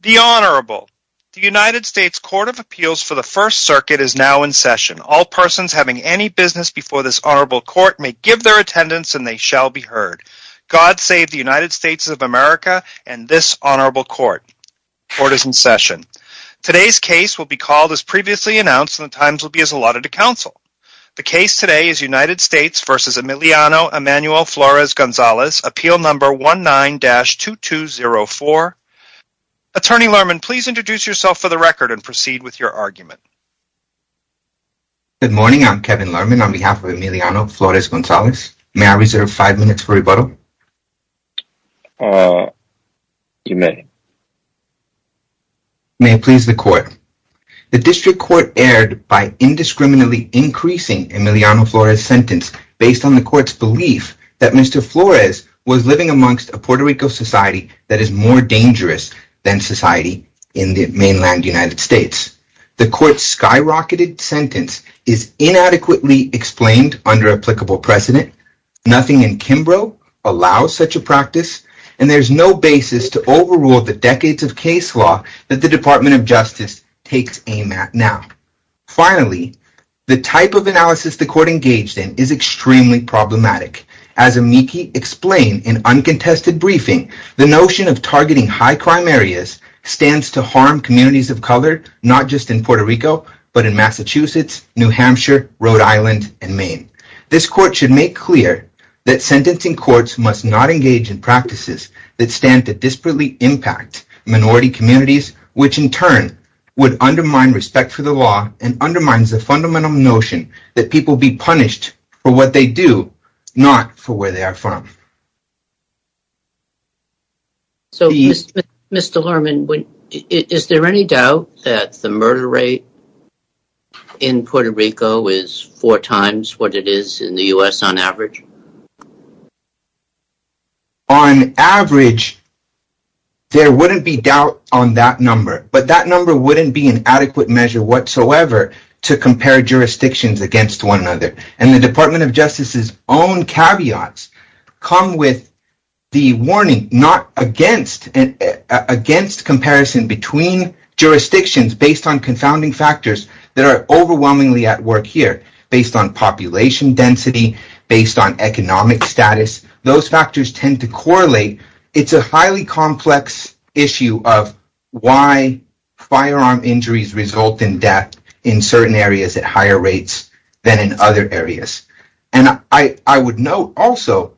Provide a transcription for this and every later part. The Honorable The United States Court of Appeals for the First Circuit is now in session. All persons having any business before this Honorable Court may give their attendance and they shall be heard. God save the United States of America and this Honorable Court. Court is in session. Today's case will be called as previously announced and the times will be as allotted to counsel. The case today is United States v. Emiliano Emanuel Flores-Gonzalez, appeal number 19-2204. Attorney Lerman, please introduce yourself for the record and proceed with your argument. Good morning, I'm Kevin Lerman on behalf of Emiliano Flores-Gonzalez. May I reserve five minutes for rebuttal? Uh, you may. May it please the Court. The District Court erred by indiscriminately increasing Emiliano Flores' sentence based on the Court's belief that Mr. Flores was living amongst a Puerto Rico society that is more dangerous than society in the mainland United States. The Court's skyrocketed sentence is inadequately explained under applicable precedent. Nothing in Kimbrough allows such a practice and there's no basis to overrule the decades of case law that the Department of Justice takes aim at now. Finally, the type of analysis the Court engaged in is extremely problematic. As Amiki explained in uncontested briefing, the notion of targeting high-climb areas stands to harm communities of color, not just in Puerto Rico, but in Massachusetts, New Hampshire, Rhode Island, and Maine. This Court should make clear that sentencing courts must not engage in practices that stand to disparately impact minority communities, which in turn would undermine respect for the law and undermines the fundamental notion that people be punished for what they do, not for where they are from. So, Mr. Lerman, is there any doubt that the murder rate in Puerto Rico is four times what it is in the U.S. on average? On average, there wouldn't be doubt on that number, but that number wouldn't be an adequate measure whatsoever to compare jurisdictions against one another. And the Department of Justice's own caveats come with the warning not against comparison between jurisdictions based on confounding factors that are overwhelmingly at work here, based on population density, based on economic status. Those factors tend to correlate. It's a highly complex issue of why firearm injuries result in death in certain areas at higher rates than in other areas. And I would note also,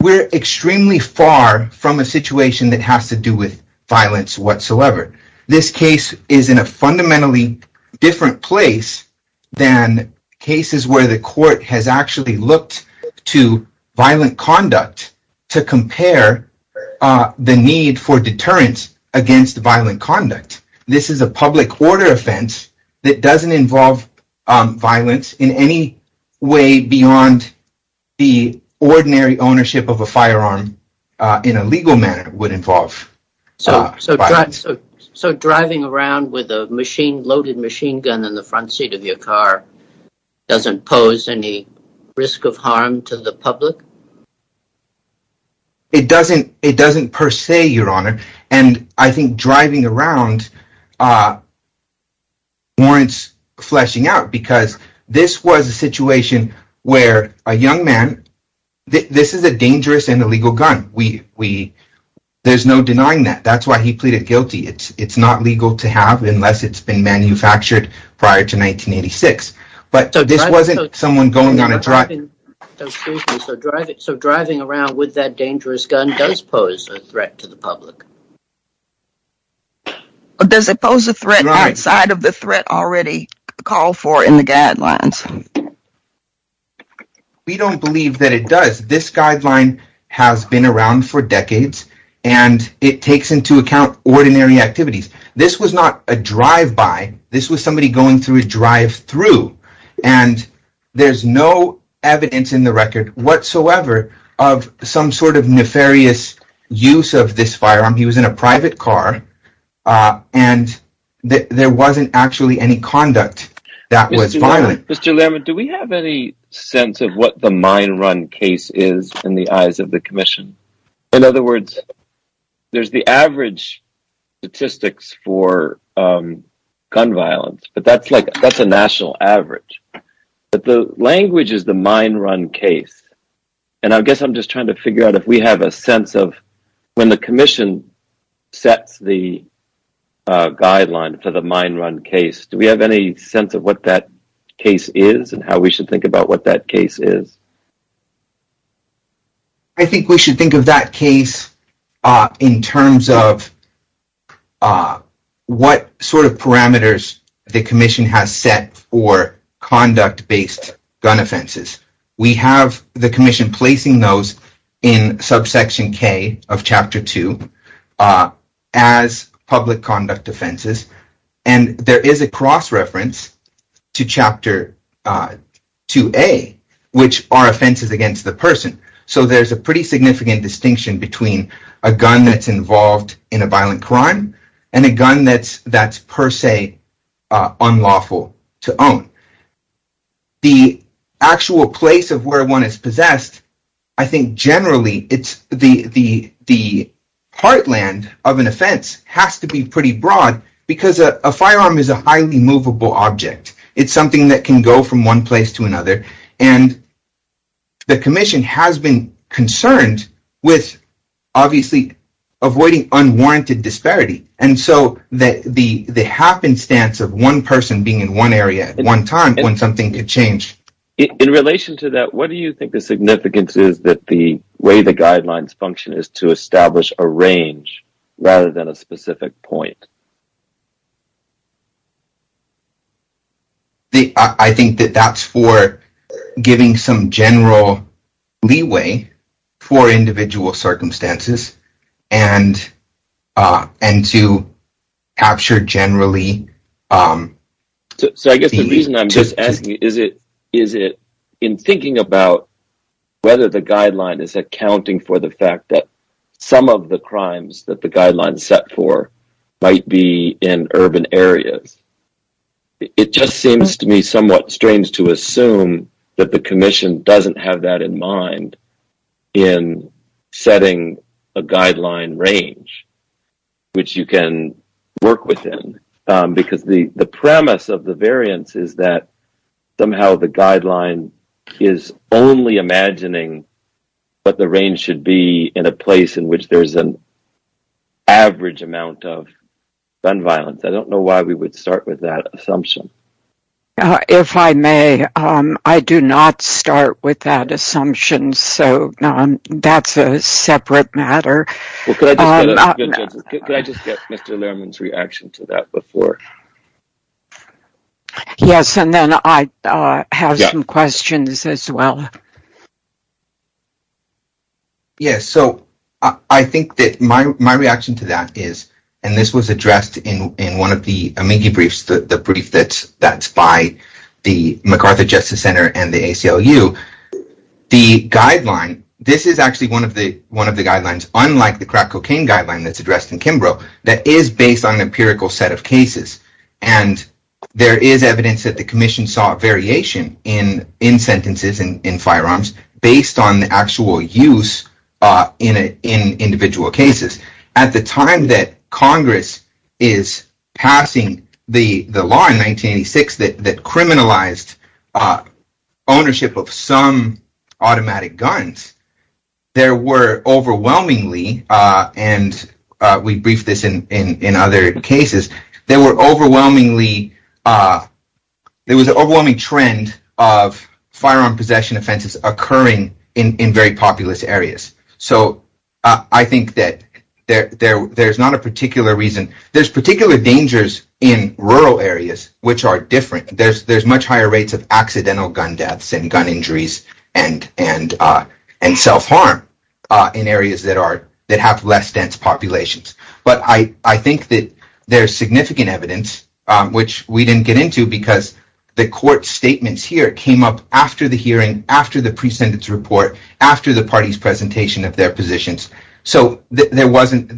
we're extremely far from a situation that has to do with violence whatsoever. This case is in a fundamentally different place than cases where the Court has actually looked to violent conduct to compare the need for deterrence against violent conduct. This is a public order offense that doesn't involve violence in any way beyond the ordinary ownership of a firearm in a legal manner would involve violence. So driving around with a loaded machine gun in the front seat of your car doesn't pose any risk of harm to the public? It doesn't per se, Your Honor. And I think driving around warrants fleshing out, because this was a situation where a young man... This is a dangerous and illegal gun. There's no denying that. That's why he pleaded guilty. It's not legal to have unless it's been manufactured prior to 1986. So driving around with that dangerous gun does pose a threat to the public? Does it pose a threat outside of the threat already called for in the guidelines? We don't believe that it does. This guideline has been around for decades, and it takes into account ordinary activities. This was not a drive-by. This was somebody going through a drive-through, and there's no evidence in the record whatsoever of some sort of nefarious use of this firearm. He was in a private car, and there wasn't actually any conduct that was violent. Mr. Lerman, do we have any sense of what the mine run case is in the eyes of the Commission? In other words, there's the average statistics for gun violence, but that's a national average. But the language is the mine run case, and I guess I'm just trying to figure out if we have a sense of... When the Commission sets the guideline for the mine run case, do we have any sense of what that case is and how we should think about what that case is? I think we should think of that case in terms of what sort of parameters the Commission has set for conduct-based gun offenses. We have the Commission placing those in Subsection K of Chapter 2 as public conduct offenses, and there is a cross-reference to Chapter 2A, which are offenses against the person. So there's a pretty significant distinction between a gun that's involved in a violent crime and a gun that's per se unlawful to own. The actual place of where one is possessed, I think generally, the heartland of an offense has to be pretty broad, because a firearm is a highly movable object. It's something that can go from one place to another. And the Commission has been concerned with, obviously, avoiding unwarranted disparity. And so the happenstance of one person being in one area at one time when something could change... In relation to that, what do you think the significance is that the way the guidelines function is to establish a range rather than a specific point? I think that that's for giving some general leeway for individual circumstances and to capture generally... It just seems to me somewhat strange to assume that the Commission doesn't have that in mind in setting a guideline range, which you can work within, because the premise of the variance is that somehow the guideline is only imagining what the range should be in a place in which there's an average amount of gun violence. I don't know why we would start with that assumption. If I may, I do not start with that assumption, so that's a separate matter. Could I just get Mr. Lehrman's reaction to that before? Yes, and then I have some questions as well. Yes, so I think that my reaction to that is, and this was addressed in one of the AMIGI briefs, the brief that's by the MacArthur Justice Center and the ACLU. The guideline, this is actually one of the guidelines, unlike the crack cocaine guideline that's addressed in Kimbrough, that is based on an empirical set of cases. There is evidence that the Commission saw a variation in sentences in firearms based on actual use in individual cases. At the time that Congress is passing the law in 1986 that criminalized ownership of some automatic guns, there were overwhelmingly, and we briefed this in other cases, there was an overwhelming trend of firearm possession offenses occurring in very populous areas. So I think that there's not a particular reason. There's particular dangers in rural areas which are different. There's much higher rates of accidental gun deaths and gun injuries and self-harm in areas that have less dense populations. But I think that there's significant evidence, which we didn't get into because the court statements here came up after the hearing, after the pre-sentence report, after the party's presentation of their positions. So there wasn't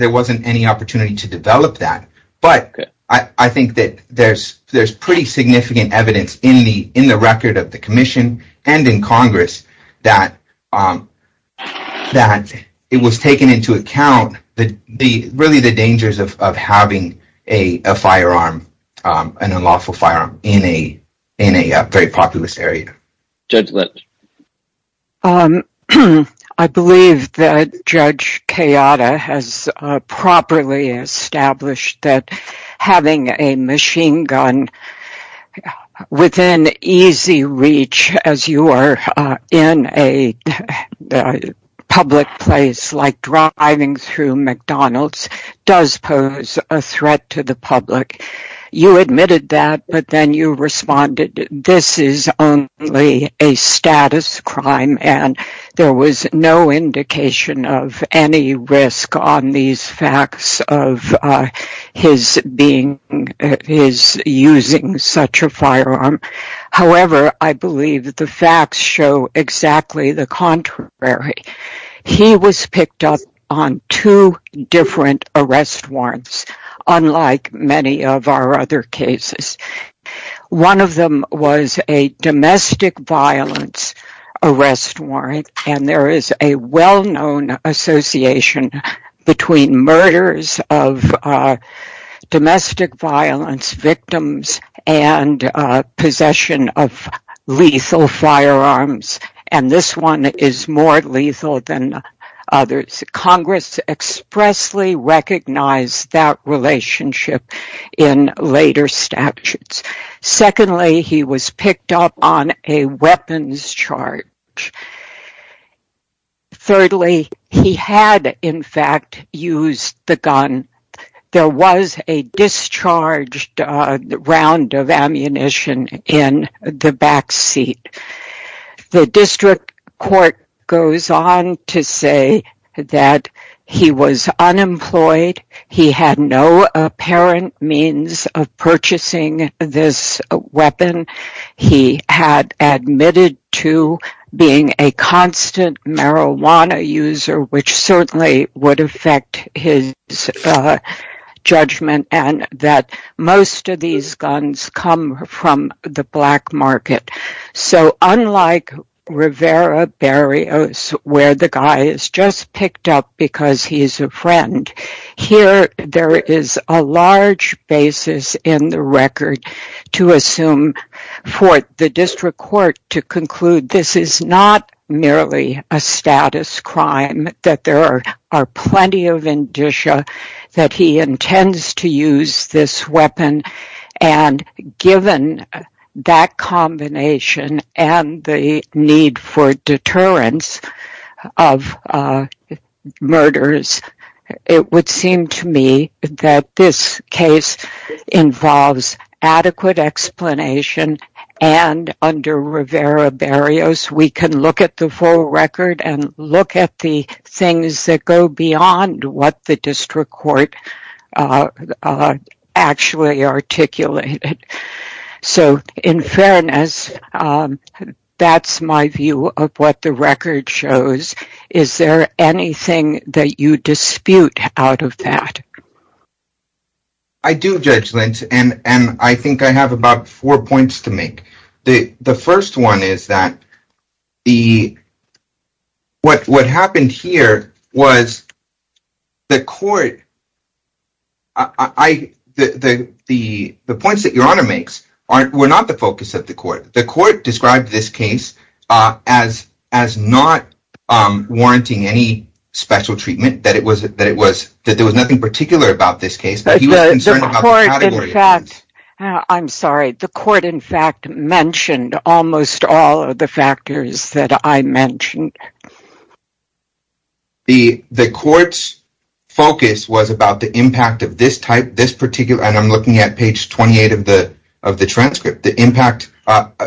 any opportunity to develop that. But I think that there's pretty significant evidence in the record of the Commission and in Congress that it was taken into account, really the dangers of having a firearm, an unlawful firearm, in a very populous area. Judge Litt. I believe that Judge Kayada has properly established that having a machine gun within easy reach as you are in a public place like driving through McDonald's does pose a threat to the public. You admitted that, but then you responded, this is only a status crime and there was no indication of any risk on these facts of his using such a firearm. However, I believe the facts show exactly the contrary. He was picked up on two different arrest warrants, unlike many of our other cases. One of them was a domestic violence arrest warrant, and there is a well-known association between murders of domestic violence victims and possession of lethal firearms. And this one is more lethal than others. Congress expressly recognized that relationship in later statutes. Secondly, he was picked up on a weapons charge. Thirdly, he had, in fact, used the gun. There was a discharged round of ammunition in the back seat. The district court goes on to say that he was unemployed. He had no apparent means of purchasing this weapon. He had admitted to being a constant marijuana user, which certainly would affect his judgment, and that most of these guns come from the black market. So unlike Rivera Barrios, where the guy is just picked up because he's a friend, here there is a large basis in the record to assume for the district court to conclude this is not merely a status crime, that there are plenty of indicia that he intends to use this weapon. And given that combination and the need for deterrence of murders, it would seem to me that this case involves adequate explanation. And under Rivera Barrios, we can look at the full record and look at the things that go beyond what the district court actually articulated. So in fairness, that's my view of what the record shows. Is there anything that you dispute out of that? I do, Judge Lynch, and I think I have about four points to make. The first one is that what happened here was the court—the points that Your Honor makes were not the focus of the court. The court described this case as not warranting any special treatment, that there was nothing particular about this case. I'm sorry, the court in fact mentioned almost all of the factors that I mentioned. The court's focus was about the impact of this type, this particular—and I'm looking at page 28 of the transcript—the impact,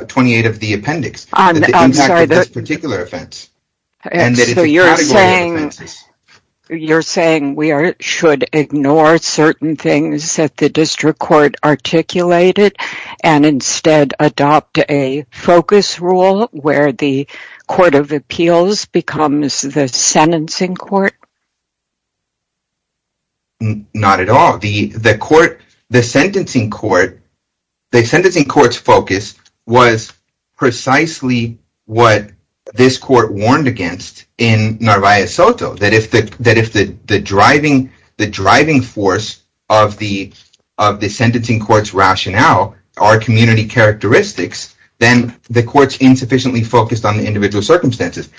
28 of the appendix, the impact of this particular offense. So you're saying we should ignore certain things that the district court articulated and instead adopt a focus rule where the court of appeals becomes the sentencing court? Not at all. The court—the sentencing court—the sentencing court's focus was precisely what this court warned against in Narvaez Soto, that if the driving force of the sentencing court's rationale are community characteristics, then the court's insufficiently focused on the individual circumstances.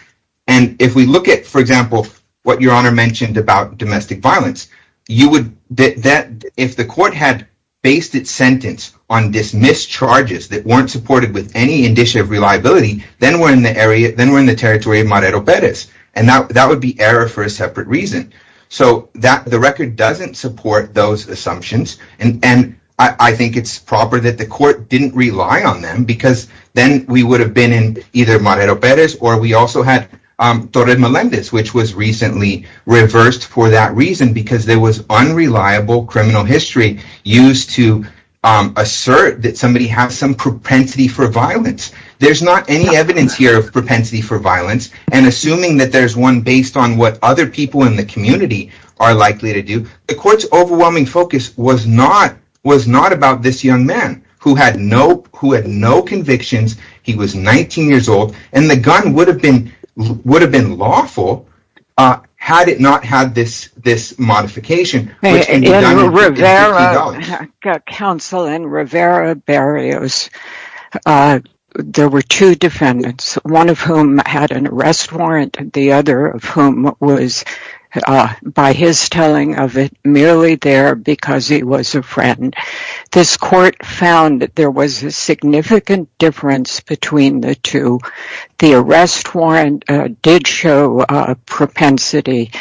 And if we look at, for example, what Your Honor mentioned about domestic violence, if the court had based its sentence on dismissed charges that weren't supported with any indicia of reliability, then we're in the territory of Marero Perez, and that would be error for a separate reason. So the record doesn't support those assumptions, and I think it's proper that the court didn't rely on them because then we would have been in either Marero Perez or we also had Torres Melendez, which was recently reversed for that reason because there was unreliable criminal history used to assert that somebody had some propensity for violence. There's not any evidence here of propensity for violence, and assuming that there's one based on what other people in the community are likely to do, the court's overwhelming focus was not about this young man who had no convictions, he was 19 years old, and the gun would have been lawful had it not had this modification. In Rivera Barrios, there were two defendants, one of whom had an arrest warrant, the other of whom was, by his telling of it, merely there because he was a friend. This court found that there was a significant difference between the two. The arrest warrant did show propensity.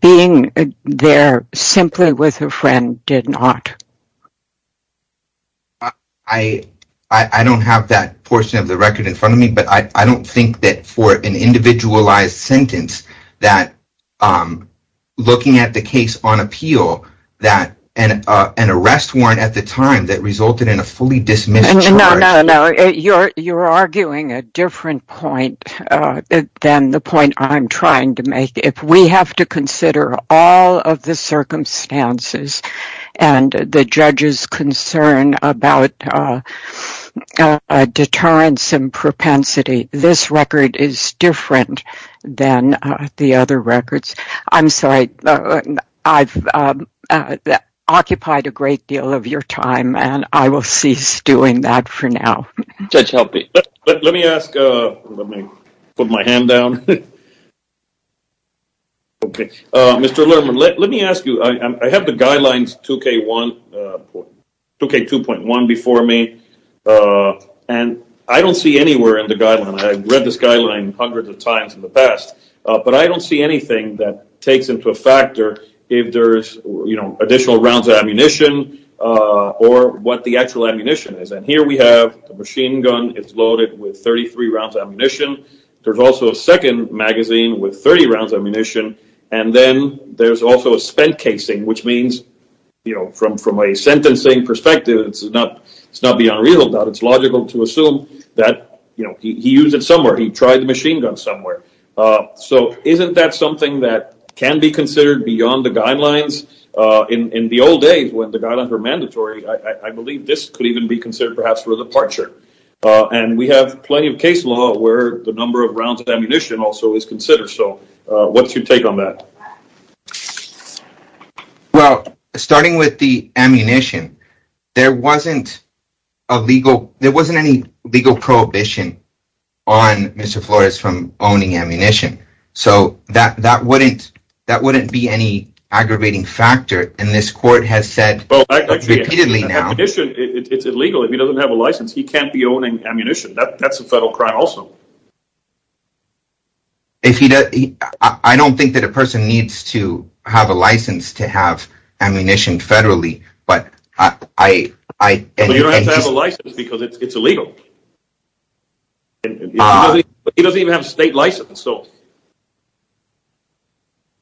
Being there simply with a friend did not. I don't have that portion of the record in front of me, but I don't think that for an individualized sentence, that looking at the case on appeal, that an arrest warrant at the time that resulted in a fully dismissed... You're arguing a different point than the point I'm trying to make. If we have to consider all of the circumstances and the judge's concern about deterrence and propensity, this record is different than the other records. I'm sorry. I've occupied a great deal of your time, and I will cease doing that for now. Let me ask... Let me put my hand down. Okay. Mr. Levin, let me ask you, I have the guidelines 2K1... 2K2.1 before me, and I don't see anywhere in the guidelines... I've read this guideline hundreds of times in the past, but I don't see anything that takes into factor if there's additional rounds of ammunition or what the actual ammunition is. Here we have a machine gun. It's loaded with 33 rounds of ammunition. There's also a second magazine with 30 rounds of ammunition, and then there's also a spent casing, which means, from a sentencing perspective, it's not beyond reason. It's logical to assume that he used it somewhere. He tried the machine gun somewhere. So isn't that something that can be considered beyond the guidelines? In the old days, when the guidelines were mandatory, I believe this could even be considered perhaps for the departure. And we have plenty of case law where the number of rounds of ammunition also is considered. So what's your take on that? Well, starting with the ammunition, there wasn't a legal... there wasn't any legal prohibition on Mr. Flores from owning ammunition. So that wouldn't be any aggravating factor, and this court has said repeatedly now... Well, ammunition is illegal. If he doesn't have a license, he can't be owning ammunition. That's a federal crime also. If he doesn't... I don't think that a person needs to have a license to have ammunition federally, but I... But he doesn't have a license because it's illegal. He doesn't even have a state license, so...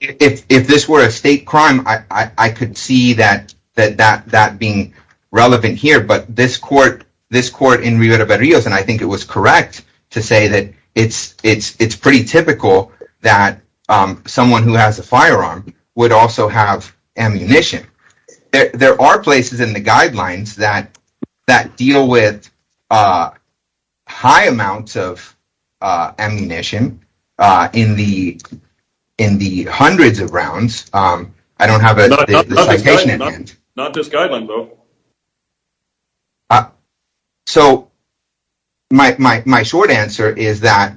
If this were a state crime, I could see that being relevant here. But this court in Rio de Berrios, and I think it was correct to say that it's pretty typical that someone who has a firearm would also have ammunition. There are places in the guidelines that deal with high amounts of ammunition in the hundreds of rounds. Not this guideline, though. So my short answer is that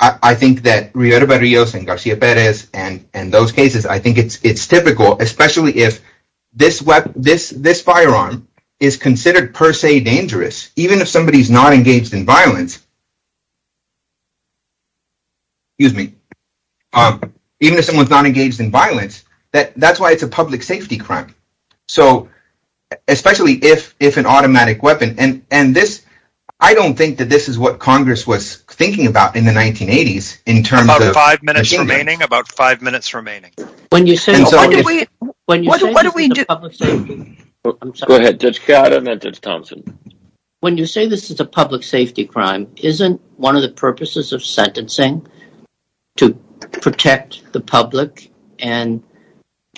I think that Rio de Berrios and Garcia Perez and those cases, I think it's typical, especially if this firearm is considered per se dangerous, even if somebody's not engaged in violence. Excuse me. Even if someone's not engaged in violence, that's why it's a public safety crime. So, especially if an automatic weapon, and this... I don't think that this is what Congress was thinking about in the 1980s in terms of... About five minutes remaining. About five minutes remaining. When you say this is a public safety crime... Go ahead, Judge Scott and then Judge Thompson. When you say this is a public safety crime, isn't one of the purposes of sentencing to protect the public? And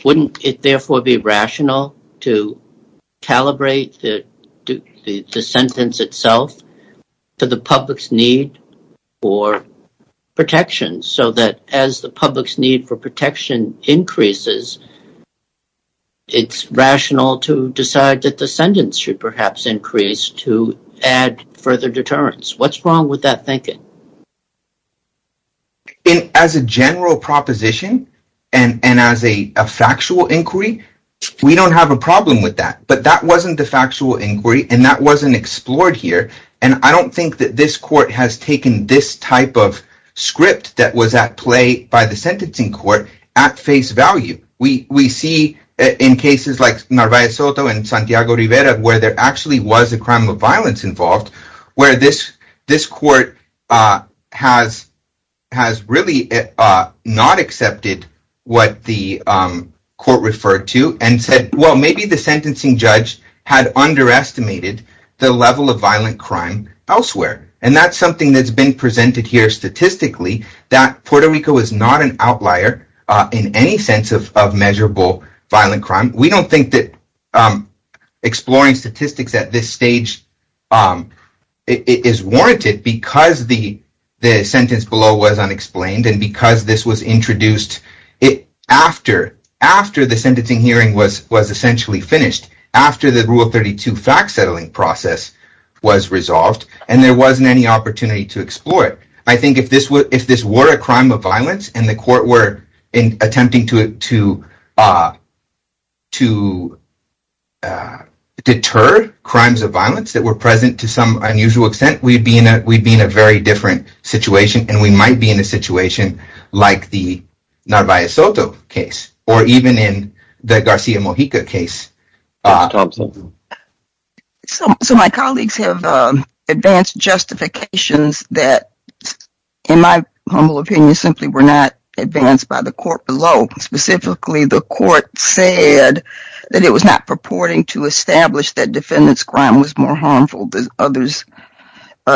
wouldn't it therefore be rational to calibrate the sentence itself to the public's need for protection? So that as the public's need for protection increases, it's rational to decide that the sentence should perhaps increase to add further deterrence. What's wrong with that thinking? As a general proposition, and as a factual inquiry, we don't have a problem with that. But that wasn't the factual inquiry, and that wasn't explored here. And I don't think that this court has taken this type of script that was at play by the sentencing court at face value. We see in cases like Narvaez Soto and Santiago Rivera where there actually was a crime of violence involved, where this court has really not accepted what the court referred to and said, well, maybe the sentencing judge had underestimated the level of violent crime elsewhere. And that's something that's been presented here statistically, that Puerto Rico is not an outlier in any sense of measurable violent crime. We don't think that exploring statistics at this stage is warranted because the sentence below was unexplained and because this was introduced after the sentencing hearing was essentially finished, after the Rule 32 fact-settling process was resolved, and there wasn't any opportunity to explore it. I think if this were a crime of violence and the court were attempting to deter crimes of violence that were present to some unusual extent, we'd be in a very different situation, and we might be in a situation like the Narvaez Soto case or even in the Garcia Mojica case. So my colleagues have advanced justifications that, in my humble opinion, simply were not advanced by the court below. Specifically, the court said that it was not purporting to establish that defendant's crime was more harmful than others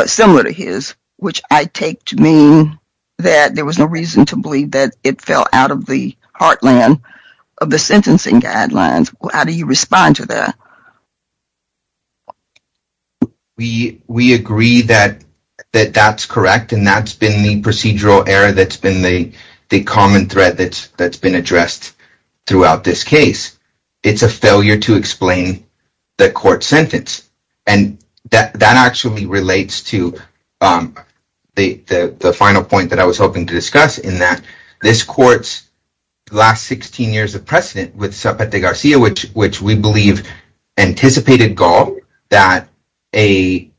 similar to his, which I take to mean that there was no reason to believe that it fell out of the heartland of the sentencing guidelines. How do you respond to that? We agree that that's correct, and that's been the procedural error that's been the common thread that's been addressed throughout this case. It's a failure to explain the court's sentence, and that actually relates to the final point that I was hoping to discuss, in that this court's last 16 years of precedent with Zapata-Garcia, which we believe anticipated gall that a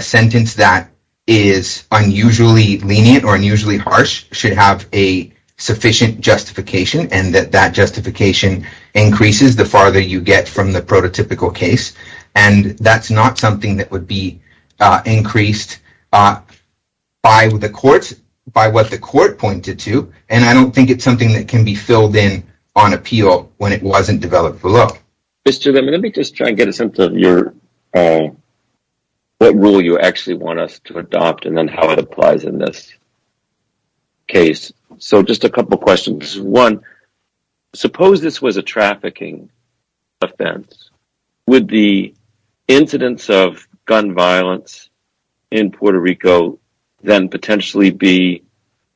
sentence that is unusually lenient or unusually harsh should have a sufficient justification, and that that justification increases the farther you get from the prototypical case. And that's not something that would be increased by what the court pointed to, and I don't think it's something that can be filled in on appeal when it wasn't developed below. Mr. Lim, let me just try and get a sense of what rule you actually want us to adopt and then how it applies in this case. So just a couple questions. One, suppose this was a trafficking offense. Would the incidence of gun violence in Puerto Rico then potentially be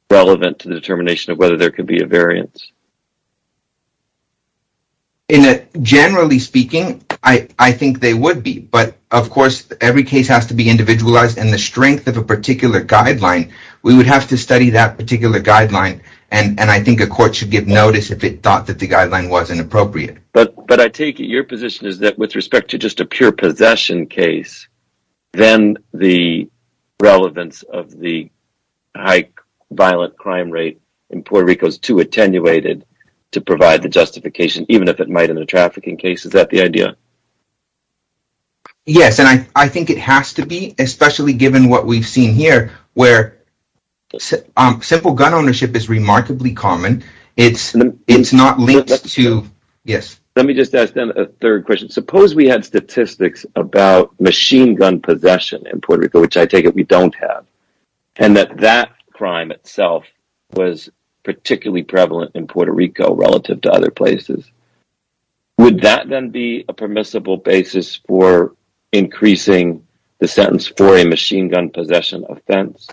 relevant to the determination of whether there could be a variance? Generally speaking, I think they would be, but of course every case has to be individualized, and the strength of a particular guideline, we would have to study that particular guideline, and I think a court should give notice if it thought that the guideline was inappropriate. But I take it your position is that with respect to just a pure possession case, then the relevance of the high violent crime rate in Puerto Rico is too attenuated to provide the justification, even if it might have been a trafficking case. Is that the idea? Yes, and I think it has to be, especially given what we've seen here where simple gun ownership is remarkably common. Let me just ask a third question. Suppose we had statistics about machine gun possession in Puerto Rico, which I take it we don't have, and that that crime itself was particularly prevalent in Puerto Rico relative to other places. Would that then be a permissible basis for increasing the sentence for a machine gun possession offense?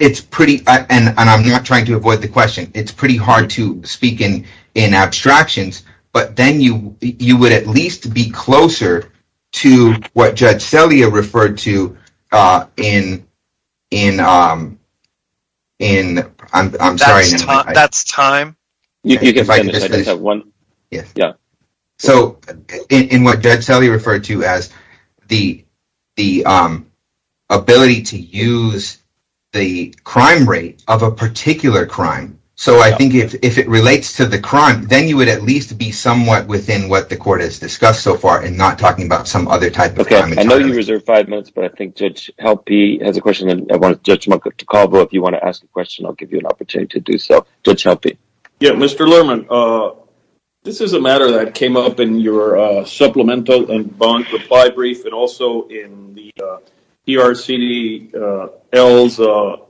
It's pretty, and I'm not trying to avoid the question, it's pretty hard to speak in abstractions, but then you would at least be closer to what Judge Celia referred to in, I'm sorry. That's time. So in what Judge Celia referred to as the ability to use the crime rate of a particular crime. So I think if it relates to the crime, then you would at least be somewhat within what the court has discussed so far and not talking about some other type of crime. Okay, I know you reserved five minutes, but I think Judge Halpy has a question, and I want Judge Monaco to call, but if you want to ask a question, I'll give you an opportunity to do so. Judge Halpy. Yeah, Mr. Lerman, this is a matter that came up in your supplemental and bond reply brief, and also in the ERCDL's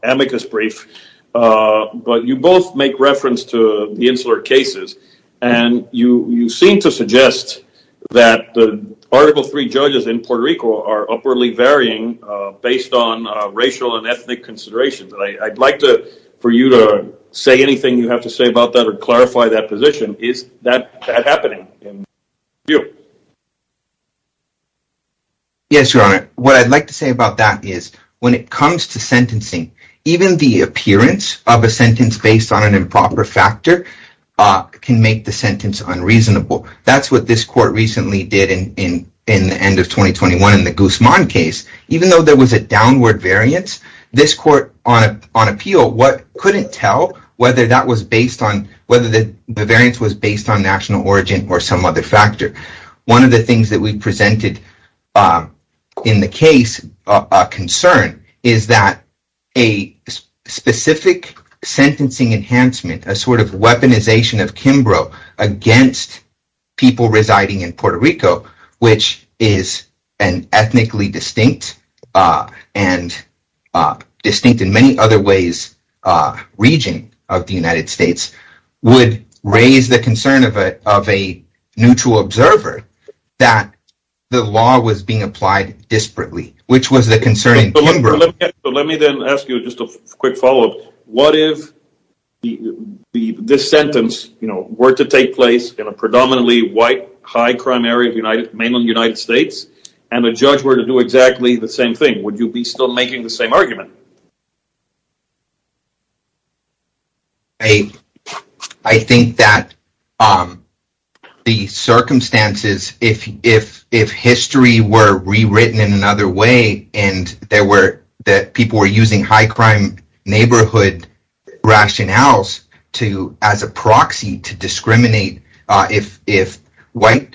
amicus brief, but you both make reference to the insular cases, and you seem to suggest that the Article III judges in Puerto Rico are upwardly varying based on racial and ethnic considerations. I'd like for you to say anything you have to say about that or clarify that position. Is that happening in your view? Yes, Your Honor. What I'd like to say about that is when it comes to sentencing, even the appearance of a sentence based on an improper factor can make the sentence unreasonable. That's what this court recently did in the end of 2021 in the Guzman case. Even though there was a downward variance, this court, on appeal, couldn't tell whether the variance was based on national origin or some other factor. One of the things that we presented in the case of concern is that a specific sentencing enhancement, a sort of weaponization of Kimbrough against people residing in Puerto Rico, which is an ethnically distinct and distinct in many other ways region of the United States, would raise the concern of a neutral observer that the law was being applied disparately, which was the concern in Kimbrough. Let me then ask you just a quick follow-up. What if this sentence were to take place in a predominantly white, high-crime area, mainly in the United States, and the judge were to do exactly the same thing? Would you be still making the same argument? I think that the circumstances, if history were rewritten in another way and that people were using high-crime neighborhood rationales as a proxy to discriminate, if white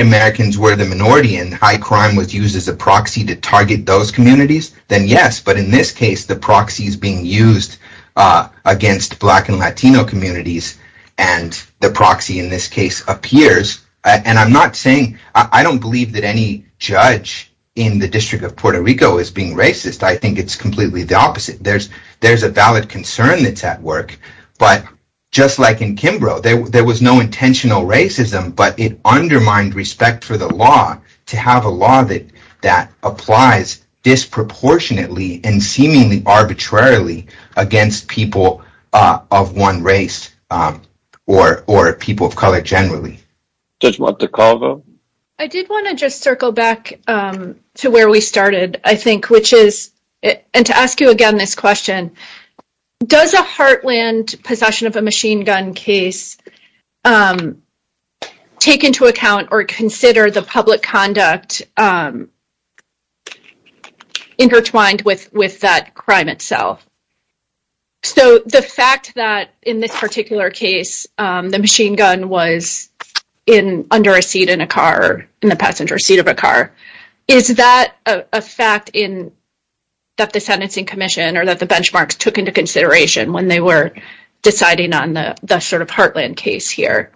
Americans were the minority and high crime was used as a proxy to target those communities, then yes, but in this case, the proxy is being used against black and Latino communities and the proxy in this case appears. And I'm not saying, I don't believe that any judge in the District of Puerto Rico is being racist. I think it's completely the opposite. There's a valid concern that's at work, but just like in Kimbrough, there was no intentional racism, but it undermined respect for the law to have a law that applies disproportionately and seemingly arbitrarily against people of one race or people of color generally. Judge Wattacava? I did want to just circle back to where we started, I think, which is, and to ask you again this question, does a Heartland possession of a machine gun case take into account or consider the public conduct intertwined with that crime itself? So the fact that in this particular case, the machine gun was under a seat in a car, in the passenger seat of a car, is that a fact that the sentencing commission or that the benchmarks took into consideration when they were deciding on the Heartland case here?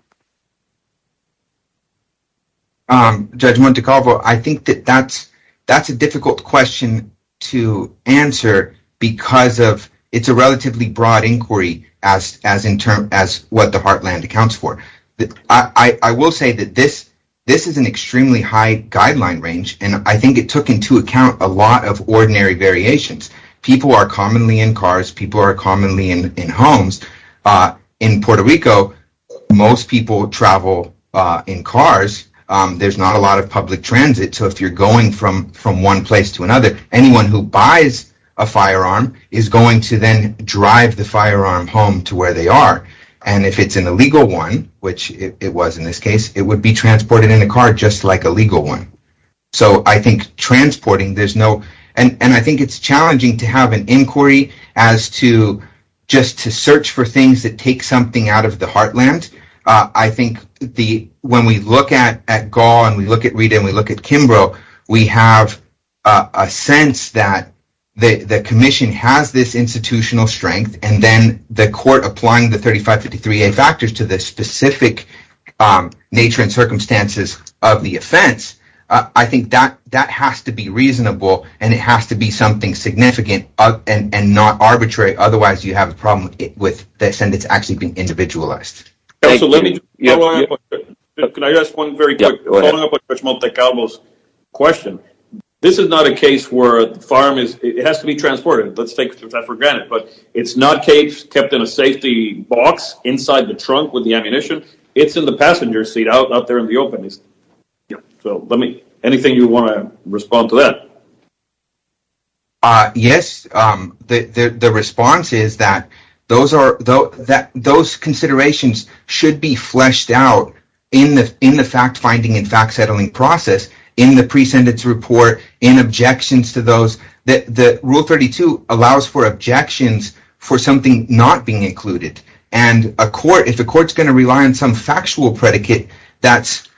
Judge Wattacava, I think that that's a difficult question to answer because it's a relatively broad inquiry as what the Heartland accounts for. I will say that this is an extremely high guideline range, and I think it took into account a lot of ordinary variations. People are commonly in cars, people are commonly in homes. In Puerto Rico, most people travel in cars. There's not a lot of public transit, so if you're going from one place to another, anyone who buys a firearm is going to then drive the firearm home to where they are. And if it's an illegal one, which it was in this case, it would be transported in a car just like a legal one. So I think transporting, there's no— and I think it's challenging to have an inquiry as to just to search for things that take something out of the Heartland. I think when we look at Gaul and we look at Rita and we look at Kimbrough, we have a sense that the commission has this institutional strength, and then the court applying the 3553A factors to the specific nature and circumstances of the offense, I think that has to be reasonable and it has to be something significant and not arbitrary, otherwise you have a problem with the sentence actually being individualist. Thank you. Can I ask one very quick question? This is not a case where a firearm is—it has to be transported. Let's take that for granted. But it's not a case kept in a safety box inside the trunk with the ammunition. It's in the passenger seat out there in the open. So anything you want to respond to that? Yes, the response is that those considerations should be fleshed out in the fact-finding and fact-settling process, in the pre-sentence report, in objections to those. Rule 32 allows for objections for something not being included, and if the court is going to rely on some factual predicate that's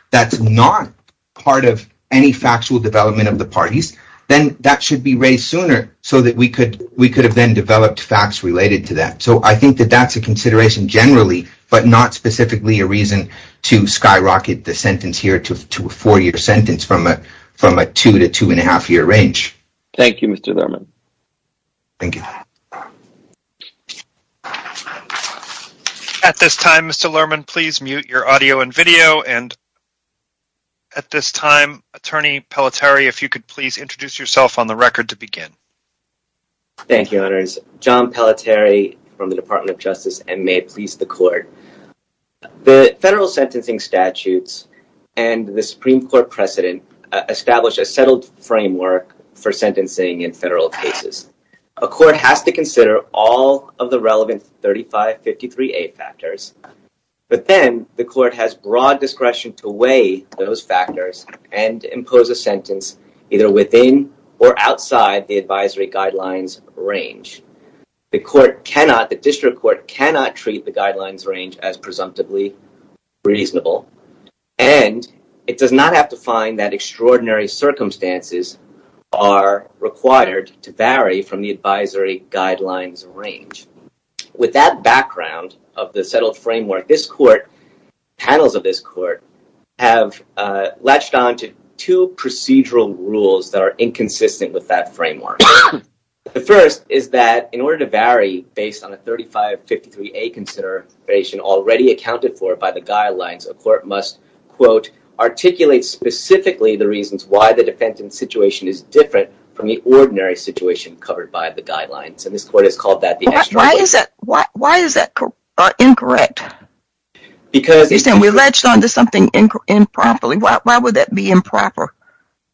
not part of any factual development of the parties, then that should be raised sooner so that we could have then developed facts related to that. So I think that that's a consideration generally, but not specifically a reason to skyrocket the sentence here to a four-year sentence from a two- to two-and-a-half-year range. Thank you, Mr. Lerman. Thank you. At this time, Mr. Lerman, please mute your audio and video, and at this time, Attorney Pelletier, if you could please introduce yourself on the record to begin. Thank you, Your Honors. John Pelletier from the Department of Justice, and may it please the Court. The federal sentencing statutes and the Supreme Court precedent establish a settled framework for sentencing in federal cases. A court has to consider all of the relevant 3553A factors, but then the court has broad discretion to weigh those factors and impose a sentence either within or outside the advisory guidelines range. The district court cannot treat the guidelines range as presumptively reasonable, and it does not have to find that extraordinary circumstances are required to vary from the advisory guidelines range. With that background of the settled framework, this Court, panels of this Court, have latched on to two procedural rules that are inconsistent with that framework. The first is that in order to vary based on a 3553A consideration already accounted for by the guidelines, a court must, quote, articulate specifically the reasons why the defense in the situation is different from the ordinary situation covered by the guidelines, and this Court has called that the issue. Why is that incorrect? Because... We latched on to something improperly. Why would that be improper?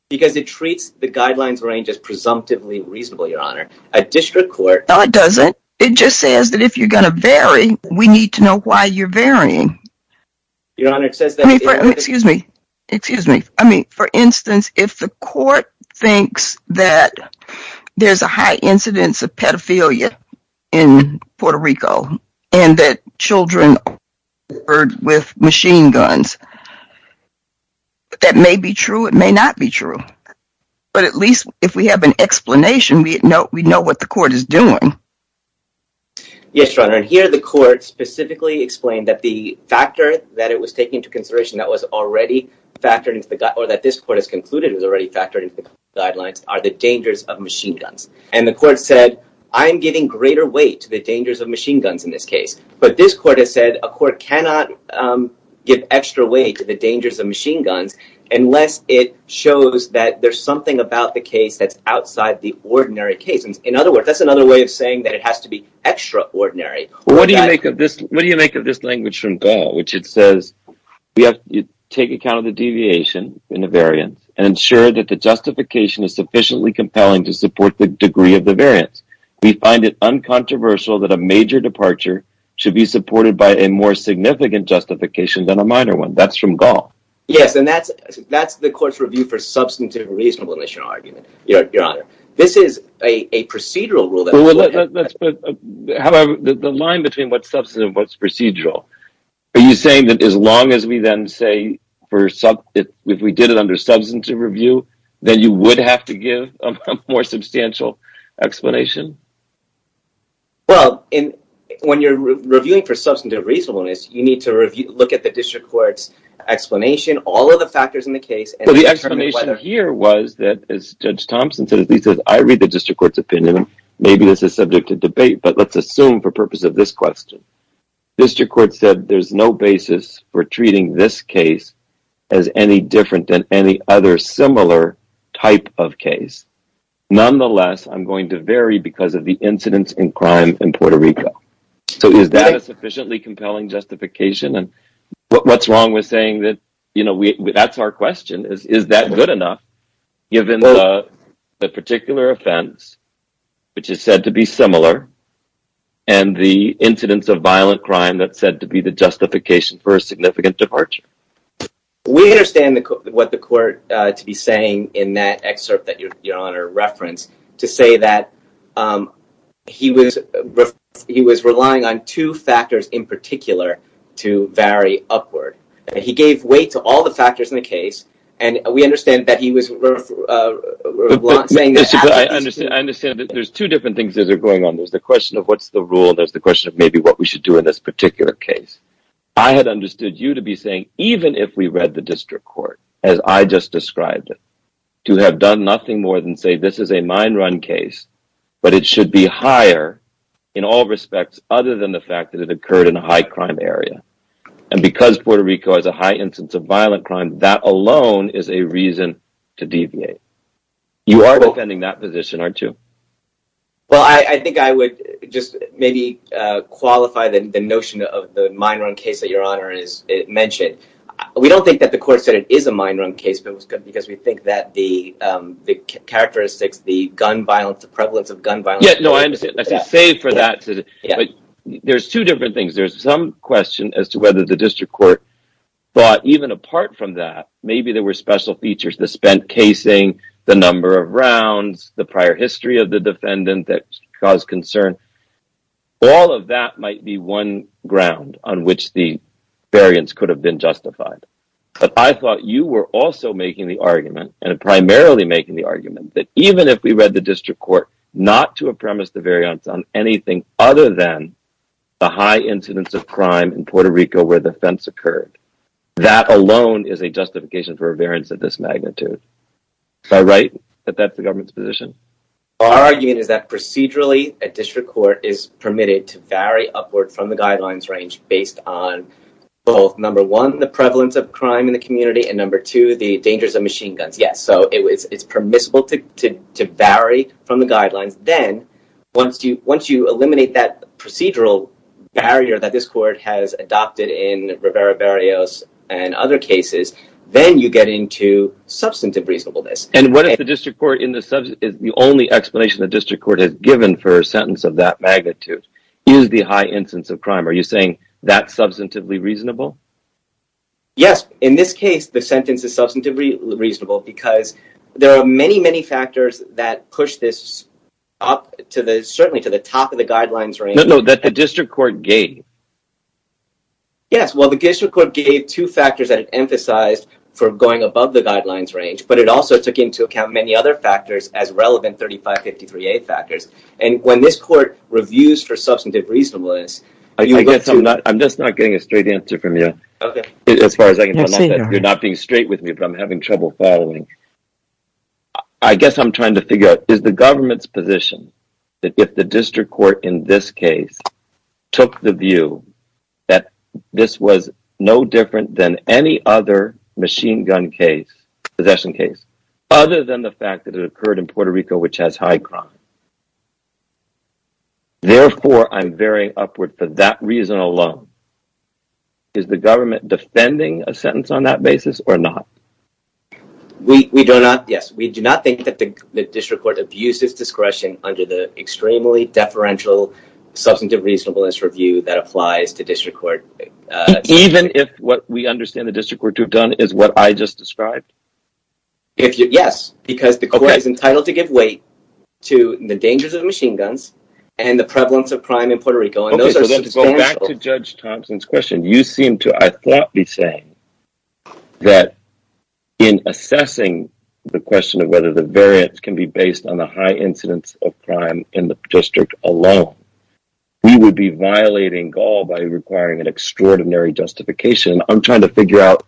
Because it treats the guidelines range as presumptively reasonable, Your Honor. A district court... No, it doesn't. It just says that if you're going to vary, we need to know why you're varying. Your Honor, it says that... Excuse me. Excuse me. I mean, for instance, if the court thinks that there's a high incidence of pedophilia in Puerto Rico and that children are murdered with machine guns, that may be true. It may not be true. But at least if we have an explanation, we know what the court is doing. Yes, Your Honor. Here the court specifically explained that the factor that it was taking into consideration that was already factored into the gui... or that this court has concluded was already factored into the guidelines are the dangers of machine guns. And the court said, I'm giving greater weight to the dangers of machine guns in this case. But this court has said a court cannot give extra weight to the dangers of machine guns unless it shows that there's something about the case that's outside the ordinary case. In other words, that's another way of saying that it has to be extraordinary. What do you make of this language from Gall, which it says, we have to take account of the deviation in the variant and ensure that the justification is sufficiently compelling to support the degree of the variance. We find it uncontroversial that a major departure should be supported by a more significant justification than a minor one. That's from Gall. Yes, and that's the court's review for substantive and reasonable initial argument. This is a procedural rule. The line between what's substantive and what's procedural. Are you saying that as long as we then say, if we did it under substantive review, then you would have to give a more substantial explanation? Well, when you're reviewing for substantive reasonableness, you need to look at the district court's explanation, all of the factors in the case. The explanation here was that, as Judge Thompson said, he says, I read the district court's opinion. Maybe this is subject to debate, but let's assume for purpose of this question. District court said there's no basis for treating this case as any different than any other similar type of case. Nonetheless, I'm going to vary because of the incidence in crime in Puerto Rico. So is that a sufficiently compelling justification? And what's wrong with saying that, you know, that's our question, is that good enough, given the particular offense, which is said to be similar, and the incidence of violent crime that's said to be the justification for a significant departure? We understand what the court to be saying in that excerpt that your Honor referenced to say that he was relying on two factors in particular to vary upward. He gave weight to all the factors in the case, and we understand that he was saying that... I understand that there's two different things that are going on. There's the question of what's the rule, and there's the question of maybe what we should do in this particular case. I had understood you to be saying, even if we read the district court, as I just described it, to have done nothing more than say, this is a mine run case, but it should be higher in all respects other than the fact that it occurred in a high crime area. And because Puerto Rico has a high incidence of violent crime, that alone is a reason to deviate. You are defending that position, aren't you? Well, I think I would just maybe qualify the notion of the mine run case that your Honor mentioned. We don't think that the court said it is a mine run case, because we think that the characteristics, the gun violence, the prevalence of gun violence... Yes, no, I understand, but to say for that... Yes. There's two different things. There's some question as to whether the district court thought even apart from that, maybe there were special features, the spent casing, the number of rounds, the prior history of the defendant that caused concern. All of that might be one ground on which the variance could have been justified. But I thought you were also making the argument, and primarily making the argument, that even if we read the district court not to have premised the variance on anything other than the high incidence of crime in Puerto Rico where the fence occurred, that alone is a justification for a variance of this magnitude. Is that right, that that's the government's position? Our argument is that procedurally, a district court is permitted to vary upward from the guidelines range based on both, number one, the prevalence of crime in the community, and number two, the dangers of machine guns. Yes, so it's permissible to vary from the guidelines. Then, once you eliminate that procedural barrier that this court has adopted in Rivera-Barrios and other cases, then you get into substantive reasonableness. And what if the district court, the only explanation the district court has given for a sentence of that magnitude is the high incidence of crime? Are you saying that's substantively reasonable? Yes, in this case, the sentence is substantively reasonable because there are many, many factors that push this up to the, certainly to the top of the guidelines range. No, no, that the district court gave. Yes, well, the district court gave two factors that it emphasized for going above the guidelines range, but it also took into account many other factors as relevant 3553A factors. And when this court reviews for substantive reasonableness... I'm just not getting a straight answer from you. Okay. As far as I can tell, you're not being straight with me, but I'm having trouble following. I guess I'm trying to figure out, is the government's position that if the district court in this case took the view that this was no different than any other machine gun case, possession case, other than the fact that it occurred in Puerto Rico, which has high crime. Therefore, I'm very upward for that reason alone. Is the government defending a sentence on that basis or not? We do not, yes. We do not think that the district court abused its discretion under the extremely deferential substantive reasonableness review that applies to district court. Even if what we understand the district court to have done is what I just described? Yes, because the court is entitled to give weight to the dangers of machine guns and the prevalence of crime in Puerto Rico. Going back to Judge Thompson's question, you seem to, I thought, be saying that in assessing the question of whether the variance can be based on the high incidence of crime in the district alone, you would be violating Gaul by requiring an extraordinary justification. I'm trying to figure out